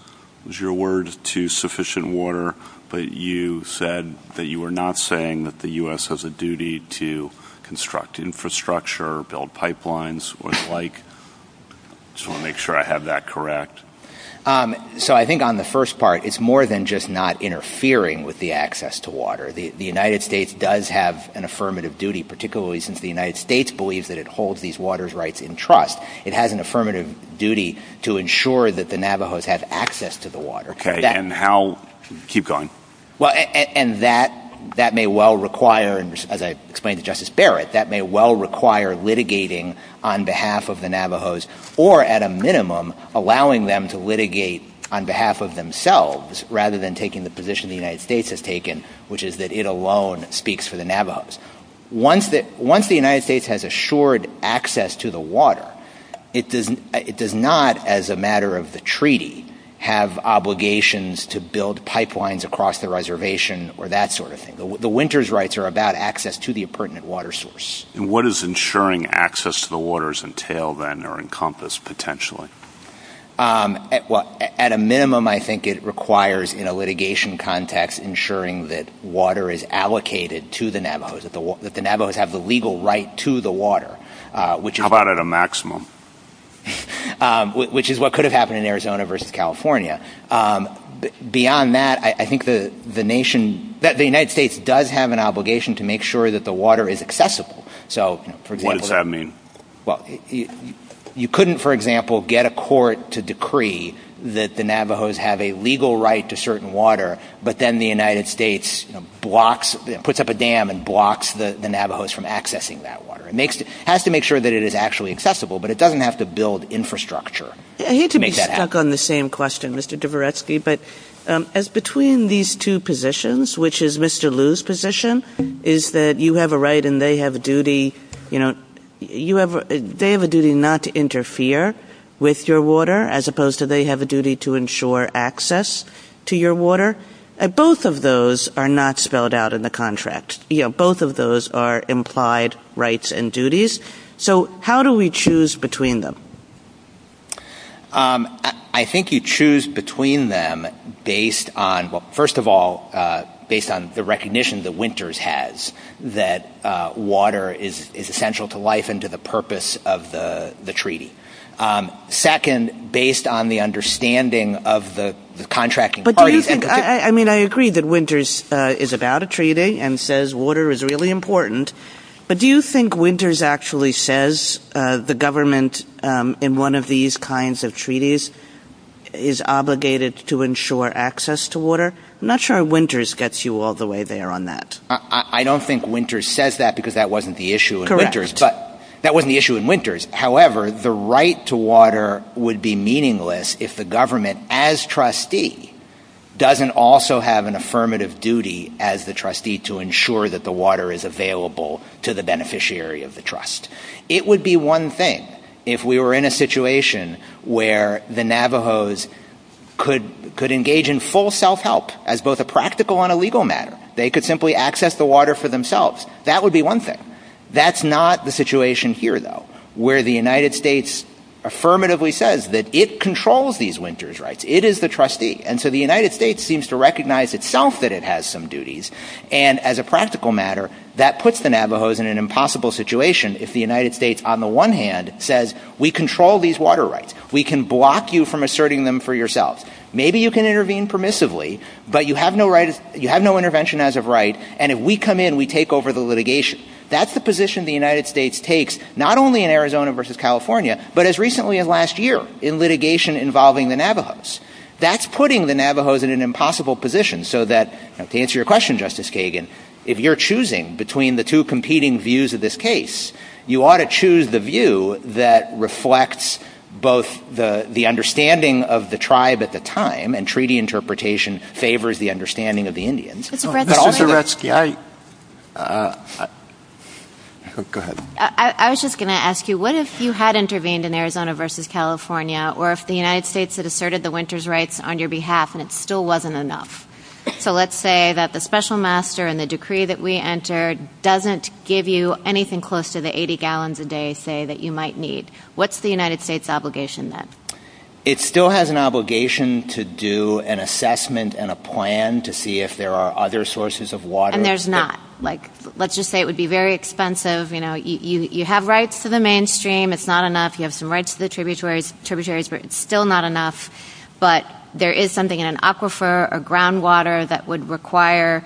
is your word, to sufficient water. But you said that you were not saying that the U.S. has a duty to construct infrastructure, build pipelines, what it's like. Just want to make sure I have that correct. So I think on the first part, it's more than just not interfering with the access to water. The United States does have an affirmative duty, particularly since the United States believes that it holds these waters' rights in trust. It has an affirmative duty to ensure that the Navajos have access to the water. Okay. And how... Keep going. Well, and that may well require, as I explained to Justice Barrett, that may well require litigating on behalf of the Navajos, or at a minimum, allowing them to litigate on behalf of themselves rather than taking the position the United States has taken, which is that it alone speaks for the Navajos. Once the United States has assured access to the water, it does not, as a matter of the treaty, have obligations to build pipelines across the reservation or that sort of thing. The winters' rights are about access to the pertinent water source. What is ensuring access to the waters entail, then, or encompass, potentially? Well, at a minimum, I think it requires, in a litigation context, ensuring that water is allocated to the Navajos, that the Navajos have the legal right to the water, which... How about at a maximum? Which is what could have happened in Arizona versus California. Beyond that, I think the nation... The United States does have an obligation to make sure that the water is accessible. So, for example... What does that mean? Well, you couldn't, for example, get a court to decree that the Navajos have a legal right to certain water, but then the United States puts up a dam and blocks the Navajos from accessing that water. It has to make sure that it is actually accessible, but it doesn't have to build infrastructure to make that happen. I hate to be stuck on the same question, Mr. Dvoretsky, but between these two positions, which is Mr. Liu's position, is that you have a right and they have a duty... They have a duty not to interfere with your water, as opposed to they have a duty to ensure access to your water. Both of those are not spelled out in the contract. Both of those are implied rights and duties. So, how do we choose between them? I think you choose between them based on... First of all, based on the recognition that Winters has that water is essential to life and to the purpose of the treaty. Second, based on the understanding of the contracting parties... But do you think... I mean, I agree that Winters is about a treaty and says water is really important, but do you think Winters actually says the government in one of these kinds of treaties is obligated to ensure access to water? I'm not sure Winters gets you all the way there on that. I don't think Winters says that because that wasn't the issue in Winters, but that wasn't the issue in Winters. However, the right to water would be meaningless if the government, as trustee, doesn't also have an affirmative duty as the trustee to ensure that water is available to the beneficiary of the trust. It would be one thing if we were in a situation where the Navajos could engage in full self-help as both a practical and a legal matter. They could simply access the water for themselves. That would be one thing. That's not the situation here, though, where the United States affirmatively says that it controls these Winters rights. It is the trustee. And so the United States seems to recognize itself that it has some duties. And as a practical matter, that puts the Navajos in an impossible situation if the United States, on the one hand, says, we control these water rights. We can block you from asserting them for yourself. Maybe you can intervene permissively, but you have no intervention as of right. And if we come in, we take over the litigation. That's the position the United States takes, not only in Arizona versus California, but as recently as last year in litigation involving the Navajos. That's putting the Navajos in an impossible position so that, to answer your question, Justice Kagan, if you're choosing between the two competing views of this case, you ought to choose the view that reflects both the understanding of the tribe at the time, and treaty interpretation favors the understanding of the Indians. I was just going to ask you, what if you had intervened in Arizona versus California, or if the United States had asserted the Winters rights on your behalf and it still wasn't enough? So let's say that the special master and the decree that we entered doesn't give you anything close to the 80 gallons a day, say, that you might need. What's the United States obligation then? It still has an obligation to do an assessment and a plan to see if there are other sources of water. And there's not. Let's just say it would be very expensive. You have rights to the mainstream. It's not enough. You have some rights to the tributaries, but it's still not enough. But there is something in an aquifer or groundwater that would require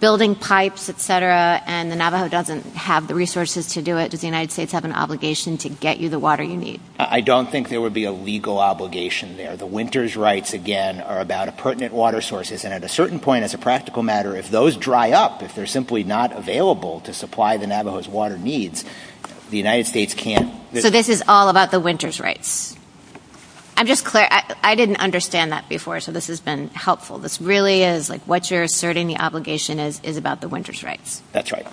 building pipes, et cetera, and the Navajo doesn't have the resources to do it. Does the United States have an obligation to get you the water you need? I don't think there would be a legal obligation there. The Winters rights, again, are about pertinent water sources. And at a certain point, as a practical matter, if those dry up, if they're simply not available to supply the Navajo's water needs, the United States can't... So this is all about the Winters rights. I'm just clear. I didn't understand that before. So this has been helpful. This really is like what you're asserting the obligation is about the Winters rights. That's right.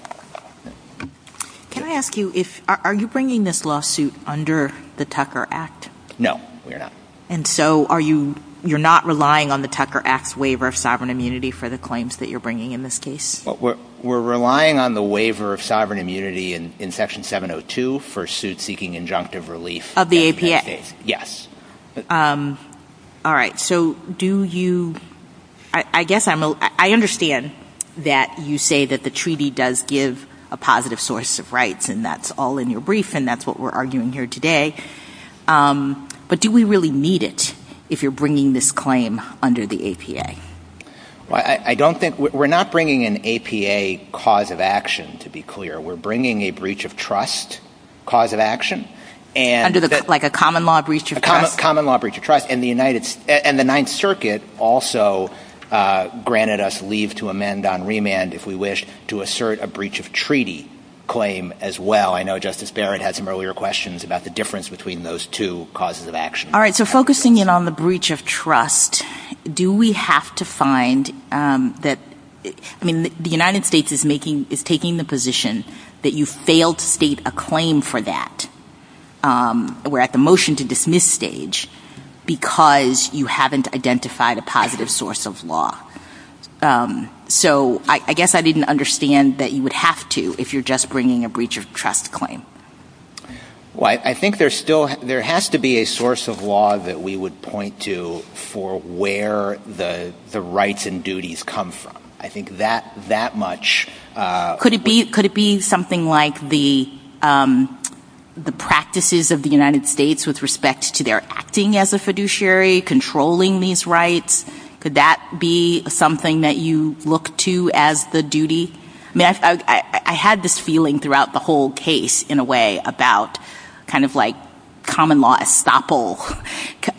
Can I ask you, are you bringing this lawsuit under the Tucker Act? No, we are not. And so you're not relying on the Tucker Act waiver of sovereign immunity for the claims that you're bringing in this case? We're relying on the waiver of sovereign relief of the APA. Yes. All right. So do you... I guess I understand that you say that the treaty does give a positive source of rights and that's all in your brief and that's what we're arguing here today. But do we really need it if you're bringing this claim under the APA? Well, I don't think... We're not bringing an APA cause of action, to be clear. We're under the common law breach of trust and the ninth circuit also granted us leave to amend on remand, if we wish, to assert a breach of treaty claim as well. I know Justice Barrett had some earlier questions about the difference between those two causes of action. All right. So focusing in on the breach of trust, do we have to find that... I mean, the United States is taking the position that you failed to state a claim for that. We're at the motion to dismiss stage because you haven't identified a positive source of law. So I guess I didn't understand that you would have to if you're just bringing a breach of trust claim. Well, I think there still... There has to be a source of law that we would point to for where the rights and duties come from. I think that much... Could it be something like the practices of the United States with respect to their acting as a fiduciary, controlling these rights? Could that be something that you look to as the duty? I mean, I had this feeling throughout the whole case, in a way, about kind of like common law estoppel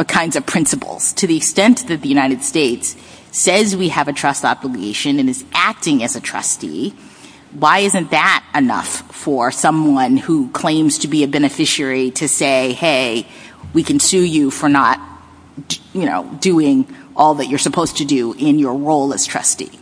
kinds of principles. To the extent that the United States says we have a trust obligation and is acting as a trustee, why isn't that enough for someone who claims to be a beneficiary to say, hey, we can sue you for not doing all that you're supposed to do in your role as trustee?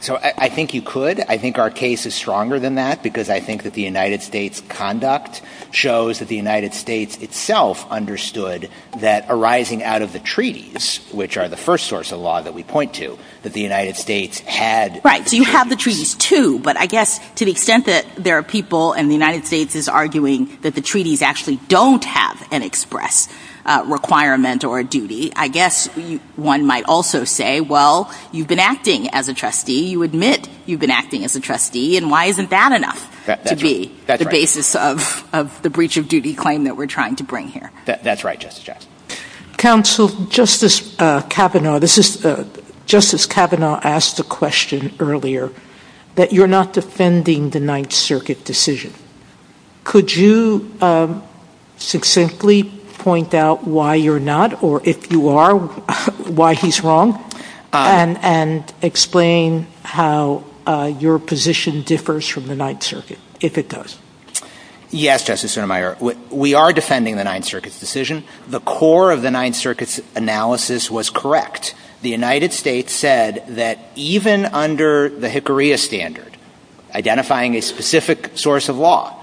So I think you could. I think our case is stronger than that because I think that the United States conduct shows that the United States itself understood that arising out of the treaties, which are the first source of law that we point to, that the United States had... Right. So you have the treaties too, but I guess to the extent that there are people and the United States is arguing that the treaties actually don't have an express requirement or a duty, I guess one might also say, well, you've been acting as a trustee. You admit you've been acting as a trustee and why isn't that enough to be the basis of the breach of duty claim that we're trying to bring here? That's right, Justice Jackson. Counsel, Justice Kavanaugh asked the question earlier that you're not defending the Ninth Circuit decision. Could you succinctly point out why you're not, or if you are, why he's wrong and explain how your position differs from the Ninth Circuit, if it does? Yes, Justice Sotomayor, we are defending the Ninth Circuit's decision. The core of the Ninth Circuit's analysis was correct. The United States said that even under the Hickory standard, identifying a specific source of law,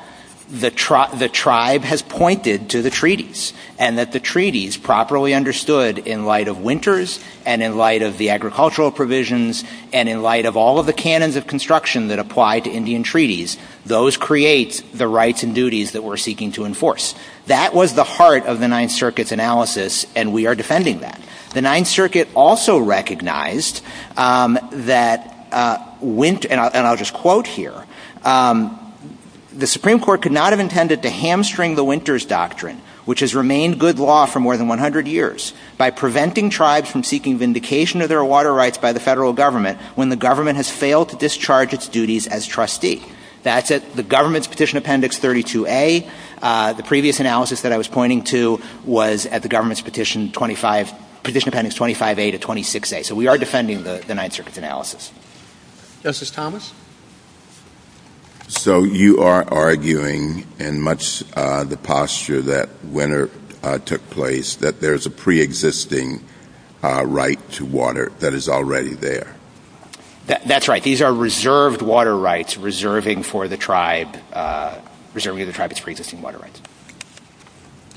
the tribe has pointed to the treaties and that the treaties properly understood in light of winters and in light of the agricultural provisions and in light all of the canons of construction that apply to Indian treaties, those create the rights and duties that we're seeking to enforce. That was the heart of the Ninth Circuit's analysis, and we are defending that. The Ninth Circuit also recognized that, and I'll just quote here, the Supreme Court could not have intended to hamstring the winters doctrine, which has remained good law for more than 100 years, by preventing tribes from seeking vindication of water rights by the federal government when the government has failed to discharge its duties as trustee. That's it. The government's Petition Appendix 32A, the previous analysis that I was pointing to was at the government's Petition Appendix 25A to 26A. So we are defending the Ninth Circuit's analysis. Justice Thomas? So you are arguing in much the posture that took place that there's a pre-existing right to water that is already there? That's right. These are reserved water rights reserving for the tribe, reserving the tribe's pre-existing water rights.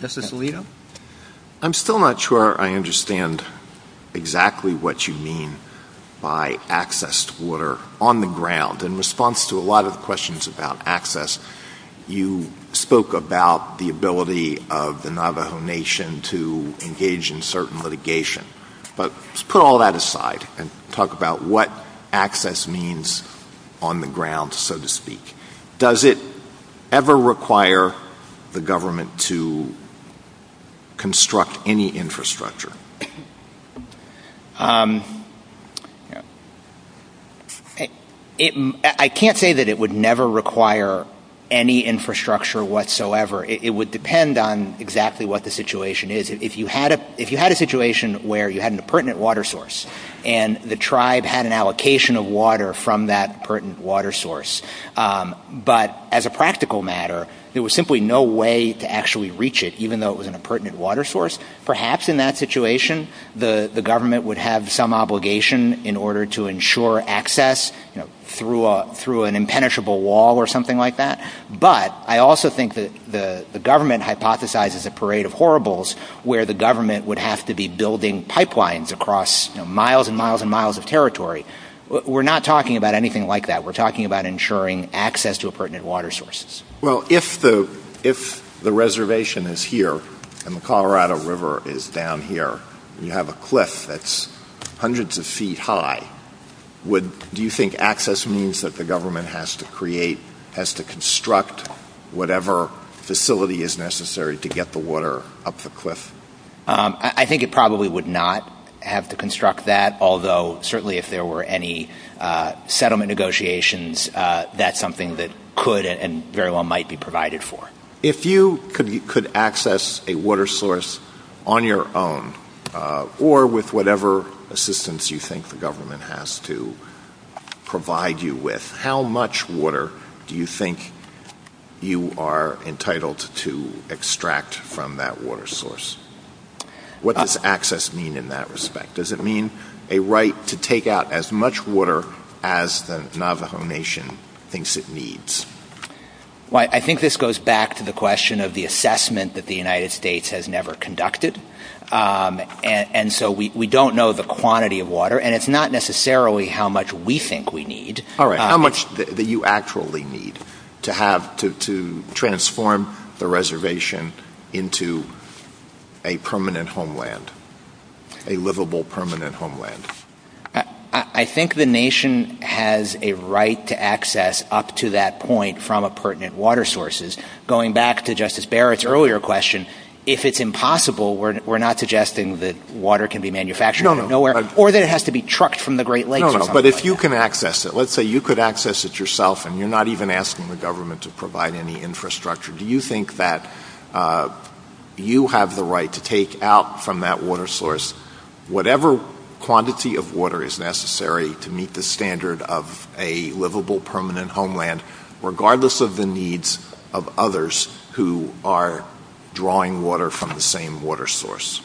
Justice Alito? I'm still not sure I understand exactly what you mean by access to water on the ground. In response to a lot of questions about Navajo Nation to engage in certain litigation, but put all that aside and talk about what access means on the ground, so to speak. Does it ever require the government to construct any infrastructure? I can't say that it would never require any infrastructure whatsoever. It would depend on what the situation is. If you had a situation where you had an impertinent water source, and the tribe had an allocation of water from that water source. But as a practical matter, there was simply no way to actually reach it, even though it was an impertinent water source. Perhaps in that situation, the government would have some obligation in order to ensure access through an impenetrable wall or something like that. But I also think that the government hypothesizes a parade of horribles, where the government would have to be building pipelines across miles and miles and miles of territory. We're not talking about anything like that. We're talking about ensuring access to impertinent water sources. Well, if the reservation is here, and the Colorado River is down here, you have a cliff that's hundreds of feet high. Do you think access means that the government has to create, has to construct whatever facility is to get the water up the cliff? I think it probably would not have to construct that, although certainly if there were any settlement negotiations, that's something that could and very well might be provided for. If you could access a water source on your own, or with whatever assistance you think the government has to provide you with, how much water do you think you are entitled to extract from that water source? What does access mean in that respect? Does it mean a right to take out as much water as the Navajo Nation thinks it needs? Well, I think this goes back to the question of the assessment that the United States has never conducted. And so we don't know the quantity of water, and it's not necessarily how much we think we need. All right, how much do you actually need to transform the reservation into a permanent homeland, a livable permanent homeland? I think the nation has a right to access up to that point from impertinent water sources. Going back to Justice Barrett's earlier question, if it's impossible, we're not suggesting that can be manufactured from nowhere, or that it has to be trucked from the Great Lakes. But if you can access it, let's say you could access it yourself, and you're not even asking the government to provide any infrastructure, do you think that you have the right to take out from that water source whatever quantity of water is necessary to meet the standard of a livable permanent homeland, regardless of the needs of others who are drawing water from the water source?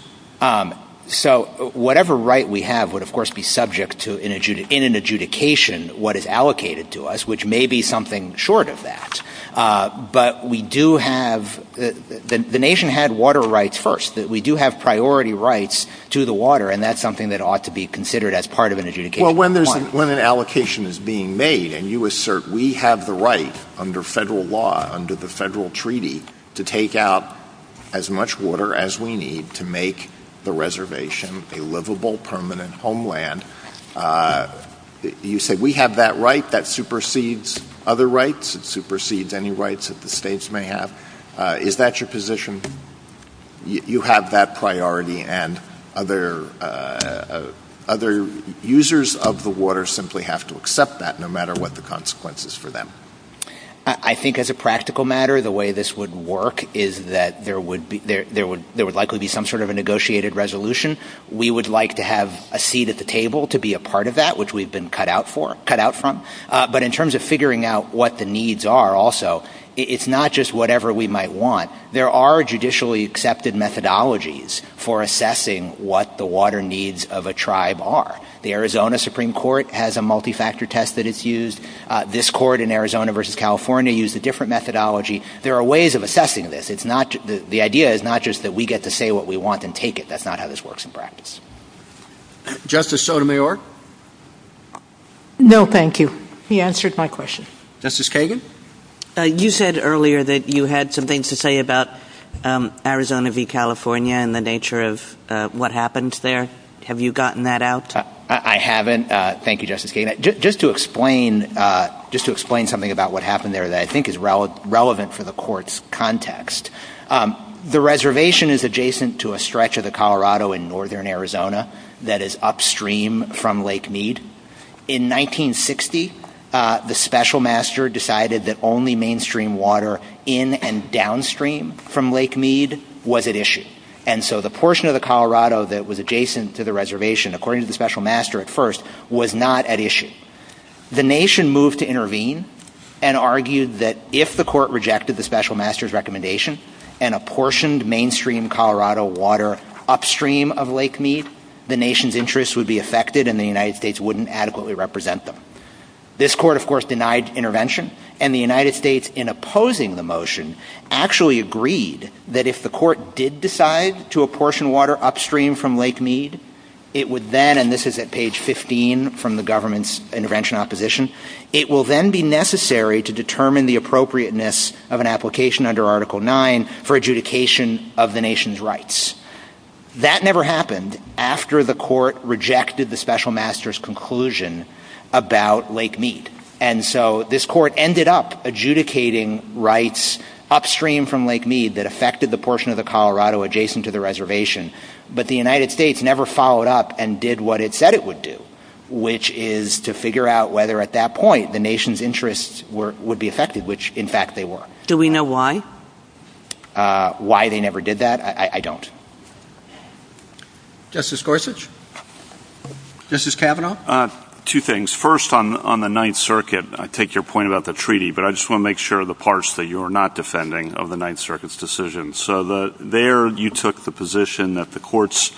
So whatever right we have would, of course, be subject to, in an adjudication, what is allocated to us, which may be something short of that. But the nation had water rights first. We do have priority rights to the water, and that's something that ought to be considered as part of an adjudication. Well, when an allocation is being made, and you assert we have the right under federal law, under the federal treaty, to take out as much water as we need to make the reservation a livable permanent homeland, you say we have that right that supersedes other rights, it supersedes any rights that the states may have. Is that your position? You have that priority, and other users of the water simply have to accept that, no matter what the consequences for them? I think, as a practical matter, the way this would work is that there would likely be some sort of a negotiated resolution. We would like to have a seat at the table to be a part of that, which we've been cut out from. But in terms of figuring out what the needs are also, it's not just whatever we might want. There are judicially accepted methodologies for assessing what the water needs of a tribe are. The Arizona Supreme Court has a multi-factor test that it's discord in Arizona versus California used a different methodology. There are ways of assessing this. The idea is not just that we get to say what we want and take it. That's not how this works in practice. Justice Sotomayor? No, thank you. He answered my question. Justice Kagan? You said earlier that you had some things to say about Arizona v. California and the nature of what happened there. Have you gotten that out? I haven't. Thank you, Justice Kagan. Just to explain something about what happened there that I think is relevant for the court's context, the reservation is adjacent to a stretch of the Colorado in northern Arizona that is upstream from Lake Mead. In 1960, the special master decided that only mainstream water in and downstream from Lake Mead was at issue. And so the portion of the Colorado that was adjacent to the reservation, according to the special master at first, was not at issue. The nation moved to intervene and argued that if the court rejected the special master's recommendation and apportioned mainstream Colorado water upstream of Lake Mead, the nation's interest would be affected and the United States wouldn't adequately represent them. This court, of course, denied intervention. And the United States, in opposing the motion, actually agreed that if the court did decide to apportion water upstream from Lake Mead, it would then, and this is at page 15 from the government's intervention opposition, it will then be necessary to determine the appropriateness of an application under Article 9 for adjudication of the nation's rights. That never happened after the court rejected the special master's conclusion about Lake Mead. And so this court ended up adjudicating rights upstream from Lake Mead that affected the portion of the Colorado adjacent to the reservation, but the United States never followed up and did what it said it would do, which is to figure out whether at that point the nation's interests would be affected, which in fact they were. Do we know why? Why they never did that? I don't. Justice Gorsuch? Justice Kavanaugh? Two things. First, on the Ninth Circuit, I take your point about the treaty, but I just want to make sure the parts that you're not defending of the Ninth Circuit, you took the position that the court's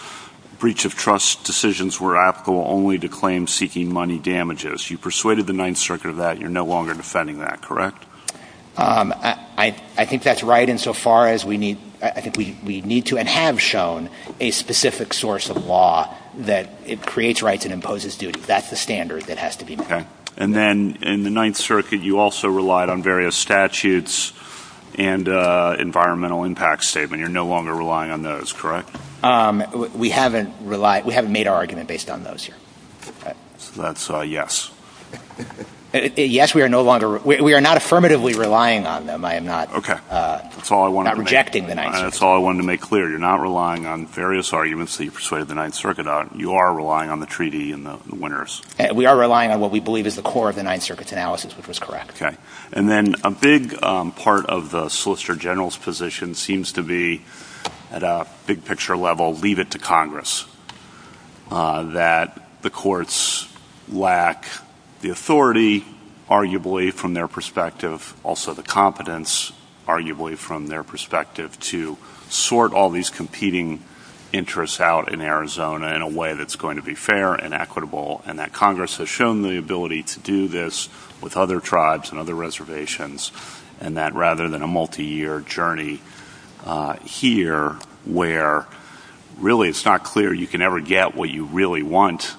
breach of trust decisions were applicable only to claims seeking money damages. You persuaded the Ninth Circuit of that. You're no longer defending that, correct? I think that's right insofar as we need, I think we need to and have shown a specific source of law that it creates rights and imposes duties. That's the standard that has to be met. And then in the Ninth Circuit, you also relied on various statutes and environmental impact statement. You're no longer relying on those, correct? We haven't relied, we haven't made our argument based on those. That's a yes. Yes, we are no longer, we are not affirmatively relying on them. I am not. Okay. That's all I want to reject. That's all I wanted to make clear. You're not relying on various arguments that you persuaded the Ninth Circuit on. You are relying on the treaty and the winners. We are relying on what we believe is the core of the Ninth Circuit's analysis, which was correct. Okay. And then a big part of the Solicitor General's position seems to be at a big picture level, leave it to Congress, that the courts lack the authority, arguably from their perspective, also the competence, arguably from their perspective to sort all these competing interests out in Arizona in a way that's going to be fair and equitable. And that Congress has shown the ability to do this with other tribes and other reservations and that rather than a multi-year journey here, where really it's not clear you can ever get what you really want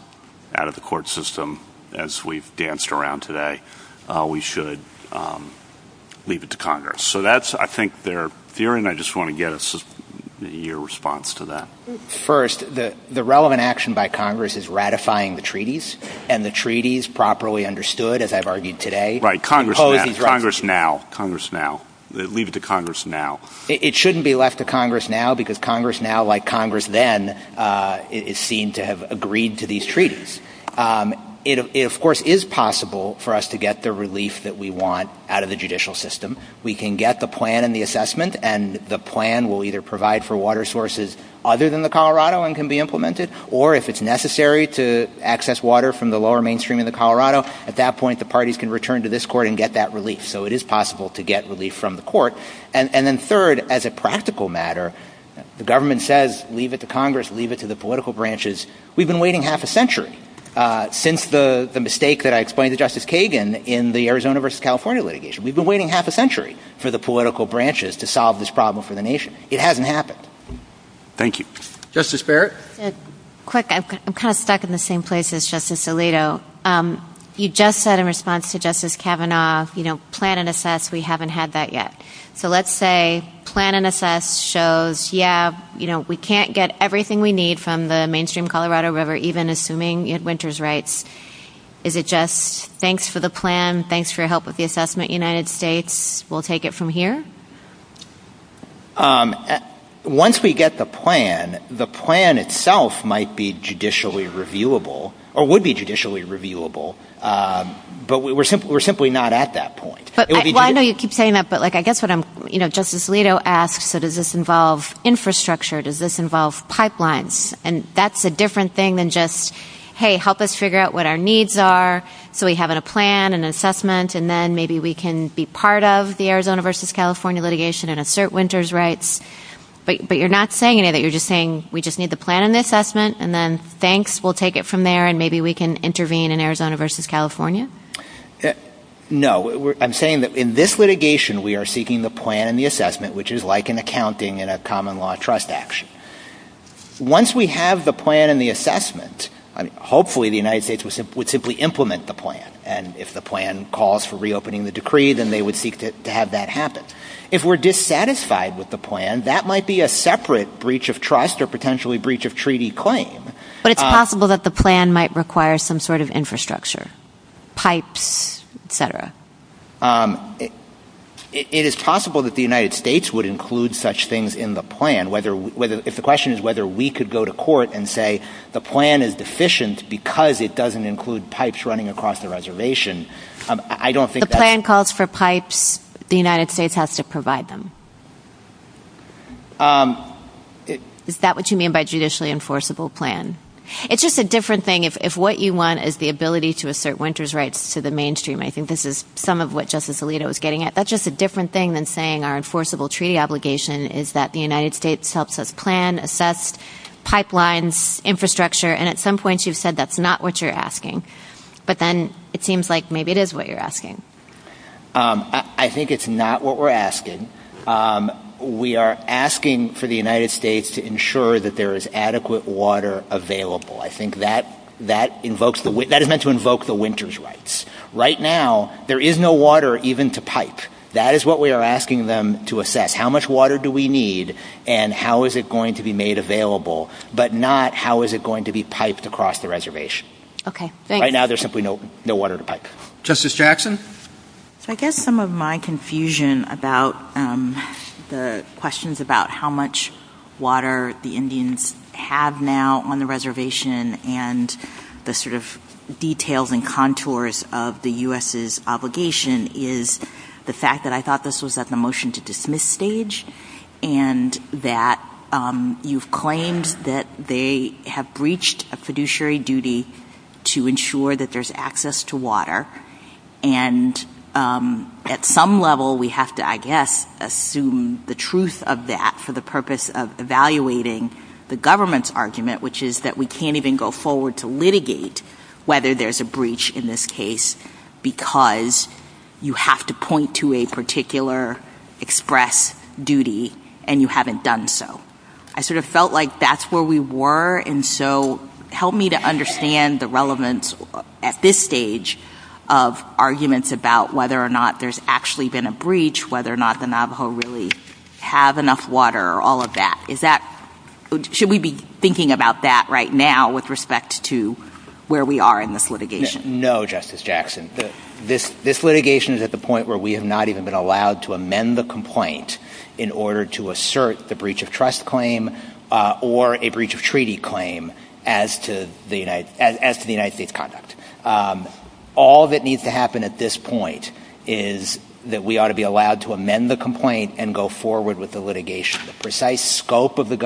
out of the court system, as we've danced around today, we should leave it to Congress. So that's, I think they're, DeRionne, I just want to get your response to that. First, the relevant action by Congress is ratifying the treaties and the treaties properly understood, as I've argued today. Congress now, Congress now, leave it to Congress now. It shouldn't be left to Congress now because Congress now, like Congress then, is seen to have agreed to these treaties. It of course is possible for us to get the relief that we want out of the judicial system. We can get the plan and the assessment and the plan will either provide for water sources other than the Colorado and can be implemented, or if it's at that point, the parties can return to this court and get that relief. So it is possible to get relief from the court. And then third, as a practical matter, the government says, leave it to Congress, leave it to the political branches. We've been waiting half a century since the mistake that I explained to Justice Kagan in the Arizona versus California litigation. We've been waiting half a century for the political branches to solve this problem for the nation. It hasn't happened. Thank you. Justice Barrett. Quick, I'm kind of stuck in the same place as Justice Alito. You just said in response to Justice Kavanaugh, you know, plan and assess, we haven't had that yet. So let's say plan and assess shows, yeah, you know, we can't get everything we need from the mainstream Colorado River, even assuming you had winter's rights. Is it just, thanks for the plan, thanks for your help with the assessment, United States, we'll take it from here? Um, once we get the plan, the plan itself might be judicially reviewable, or would be judicially reviewable. But we're simply, we're simply not at that point. But I know you keep saying that, but like, I guess what I'm, you know, Justice Alito asks, so does this involve infrastructure? Does this involve pipelines? And that's a different thing than just, hey, help us figure out what our needs are. So we have a plan and assessment, and then maybe we can be part of the Arizona versus California litigation and assert winter's rights. But you're not saying any of that, you're just saying, we just need the plan and the assessment. And then thanks, we'll take it from there. And maybe we can intervene in Arizona versus California. No, I'm saying that in this litigation, we are seeking the plan and the assessment, which is like an accounting and a common law trust action. Once we have the plan and the assessment, hopefully the United States would simply implement the plan. And if the plan calls for reopening the decree, then they would seek to have that happen. If we're dissatisfied with the plan, that might be a separate breach of trust or potentially breach of treaty claim. But it's possible that the plan might require some sort of infrastructure, pipe, et cetera. It is possible that the United States would include such things in the plan, whether, whether if the question is whether we could go to court and say the plan is deficient because it doesn't include pipes running across the reservation. I don't think the plan calls for pipes. The United States has to provide them. Is that what you mean by judicially enforceable plan? It's just a different thing. If what you want is the ability to assert winter's rights to the mainstream. I think this is some of what justice Alito is getting at. That's just a different thing than saying our enforceable treaty obligation is that the United States helps us plan, assess pipelines, infrastructure. And at some point you've said that's not what you're asking. But then it seems like maybe it is what you're asking. I think it's not what we're asking. We are asking for the United States to ensure that there is adequate water available. I think that that invokes the wind that is meant to invoke the winter's rights. Right now, there is no water even to pipe. That is what we are asking them to assess. How much water do we need and how is it going to be made available, but not how is it going to be piped across the reservation. Right now, there's simply no water to pipe. Justice Jackson? I guess some of my confusion about the questions about how much water the Indians have now on the reservation and the sort of details and contours of the U.S.'s is the fact that I thought this was at the motion to dismiss stage and that you've claimed that they have breached a fiduciary duty to ensure that there's access to water. And at some level, we have to, I guess, assume the truth of that for the purpose of evaluating the government's argument, which is that we can't even go forward to litigate whether there's a breach in this case because you have to point to a particular express duty and you haven't done so. I sort of felt like that's where we were and so help me to understand the relevance at this stage of arguments about whether or not there's actually been a breach, whether or not the Navajo really have enough water, all of that. Should we be thinking about that right now with respect to where we are in litigation? No, Justice Jackson. This litigation is at the point where we have not even been allowed to amend the complaint in order to assert the breach of trust claim or a breach of treaty claim as to the United States conduct. All that needs to happen at this point is that we ought to be allowed to amend the complaint and go forward with the litigation. The precise scope of the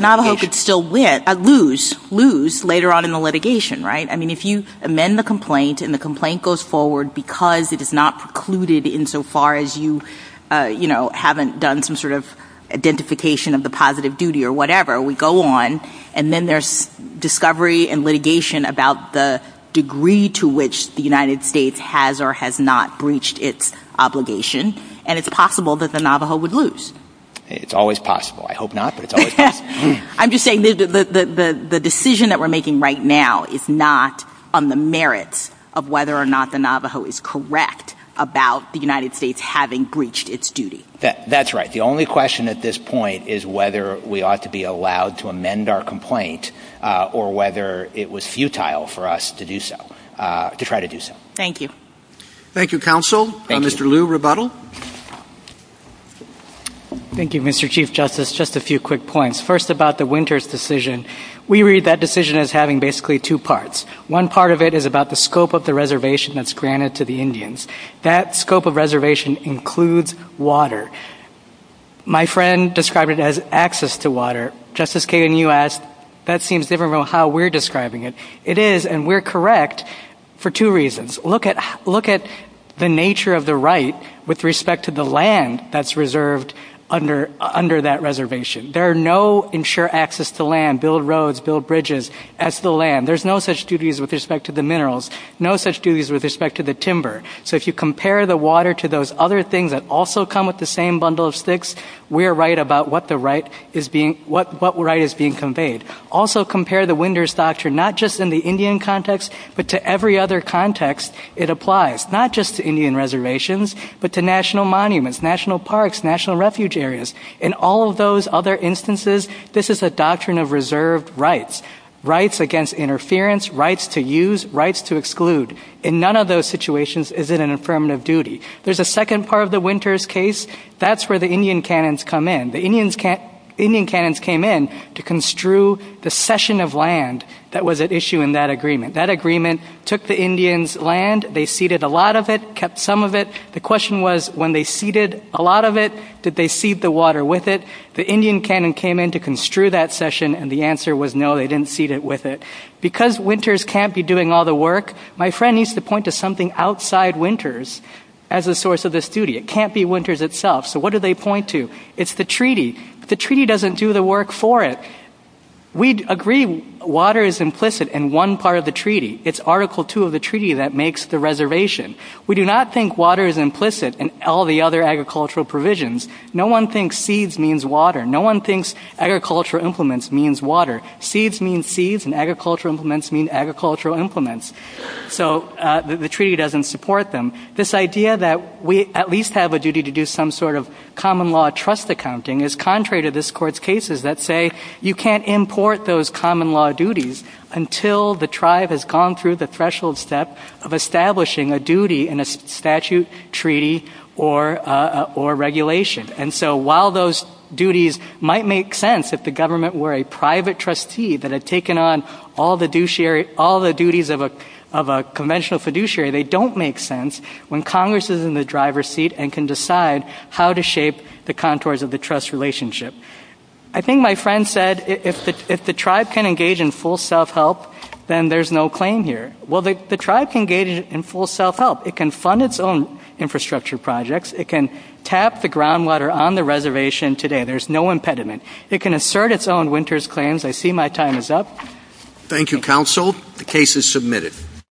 Navajo could still lose later on in the litigation, right? I mean, if you amend the complaint and the complaint goes forward because it is not precluded in so far as you haven't done some sort of identification of the positive duty or whatever, we go on and then there's discovery and litigation about the degree to which the United States has or has not breached its obligation and it's possible that the Navajo would lose. It's always possible. I hope not, but it's always possible. I'm just saying the decision that we're making right now is not on the merits of whether or not the Navajo is correct about the United States having breached its duty. That's right. The only question at this point is whether we ought to be allowed to amend our complaint or whether it was futile for us to do so, to try to do so. Thank you. Thank you, Counsel. Mr. Liu, rebuttal. Thank you, Mr. Chief Justice. Just a few quick points. First, about the Winters decision. We read that decision as having basically two parts. One part of it is about the scope of the reservation that's granted to the Indians. That scope of reservation includes water. My friend described it as access to water. Justice Kagan, you asked, that seems different from how we're describing it. It is, and we're correct for two reasons. Look at the nature of the right with respect to the land that's reserved under that reservation. There are no ensure access to land, build roads, build bridges, as the land. There's no such duties with respect to the minerals, no such duties with respect to the timber. So if you compare the water to those other things that also come with the same bundle of sticks, we're right about what right is being conveyed. Also compare the Winters doctrine, not just in the Indian context, but to every other context it applies, not just to Indian reservations, but to national monuments, national parks, national refuge areas. In all of those other instances, this is a doctrine of reserved rights, rights against interference, rights to use, rights to exclude. In none of those situations is it an affirmative duty. There's a second part of the Winters case. That's where the Indian canons come in. The Indian canons came in to construe the session of land that was at issue in that agreement. That agreement took the Indian's land, they seeded a lot of it, kept some of it. The question was, when they seeded a lot of it, did they seed the water with it? The Indian canon came in to construe that session and the answer was no, they didn't seed it with it. Because Winters can't be doing all the work, my friend needs to point to something outside Winters as a source of this duty. It can't be Winters itself. So what do they point to? It's the treaty. The treaty doesn't do the work for it. We agree water is implicit in one part of the treaty. It's Article 2 of the treaty that makes the reservation. We do not think water is implicit in all the other agricultural provisions. No one thinks seeds means water. No one thinks agricultural implements means water. Seeds means seeds and agricultural implements mean agricultural implements. So the treaty doesn't support them. This idea that we at least have a duty to do some sort of common law trust accounting is contrary to this court's cases that say you can't import those common law duties until the tribe has gone through the threshold step of establishing a duty in a statute, treaty, or regulation. And so while those duties might make sense if the government were a conventional fiduciary, they don't make sense when Congress is in the driver's seat and can decide how to shape the contours of the trust relationship. I think my friend said if the tribe can engage in full self-help, then there's no claim here. Well, the tribe can engage in full self-help. It can fund its own infrastructure projects. It can tap the groundwater on the reservation today. There's no impediment. It can assert its own Winters claims. I see my time is up. Thank you, counsel. The case is submitted.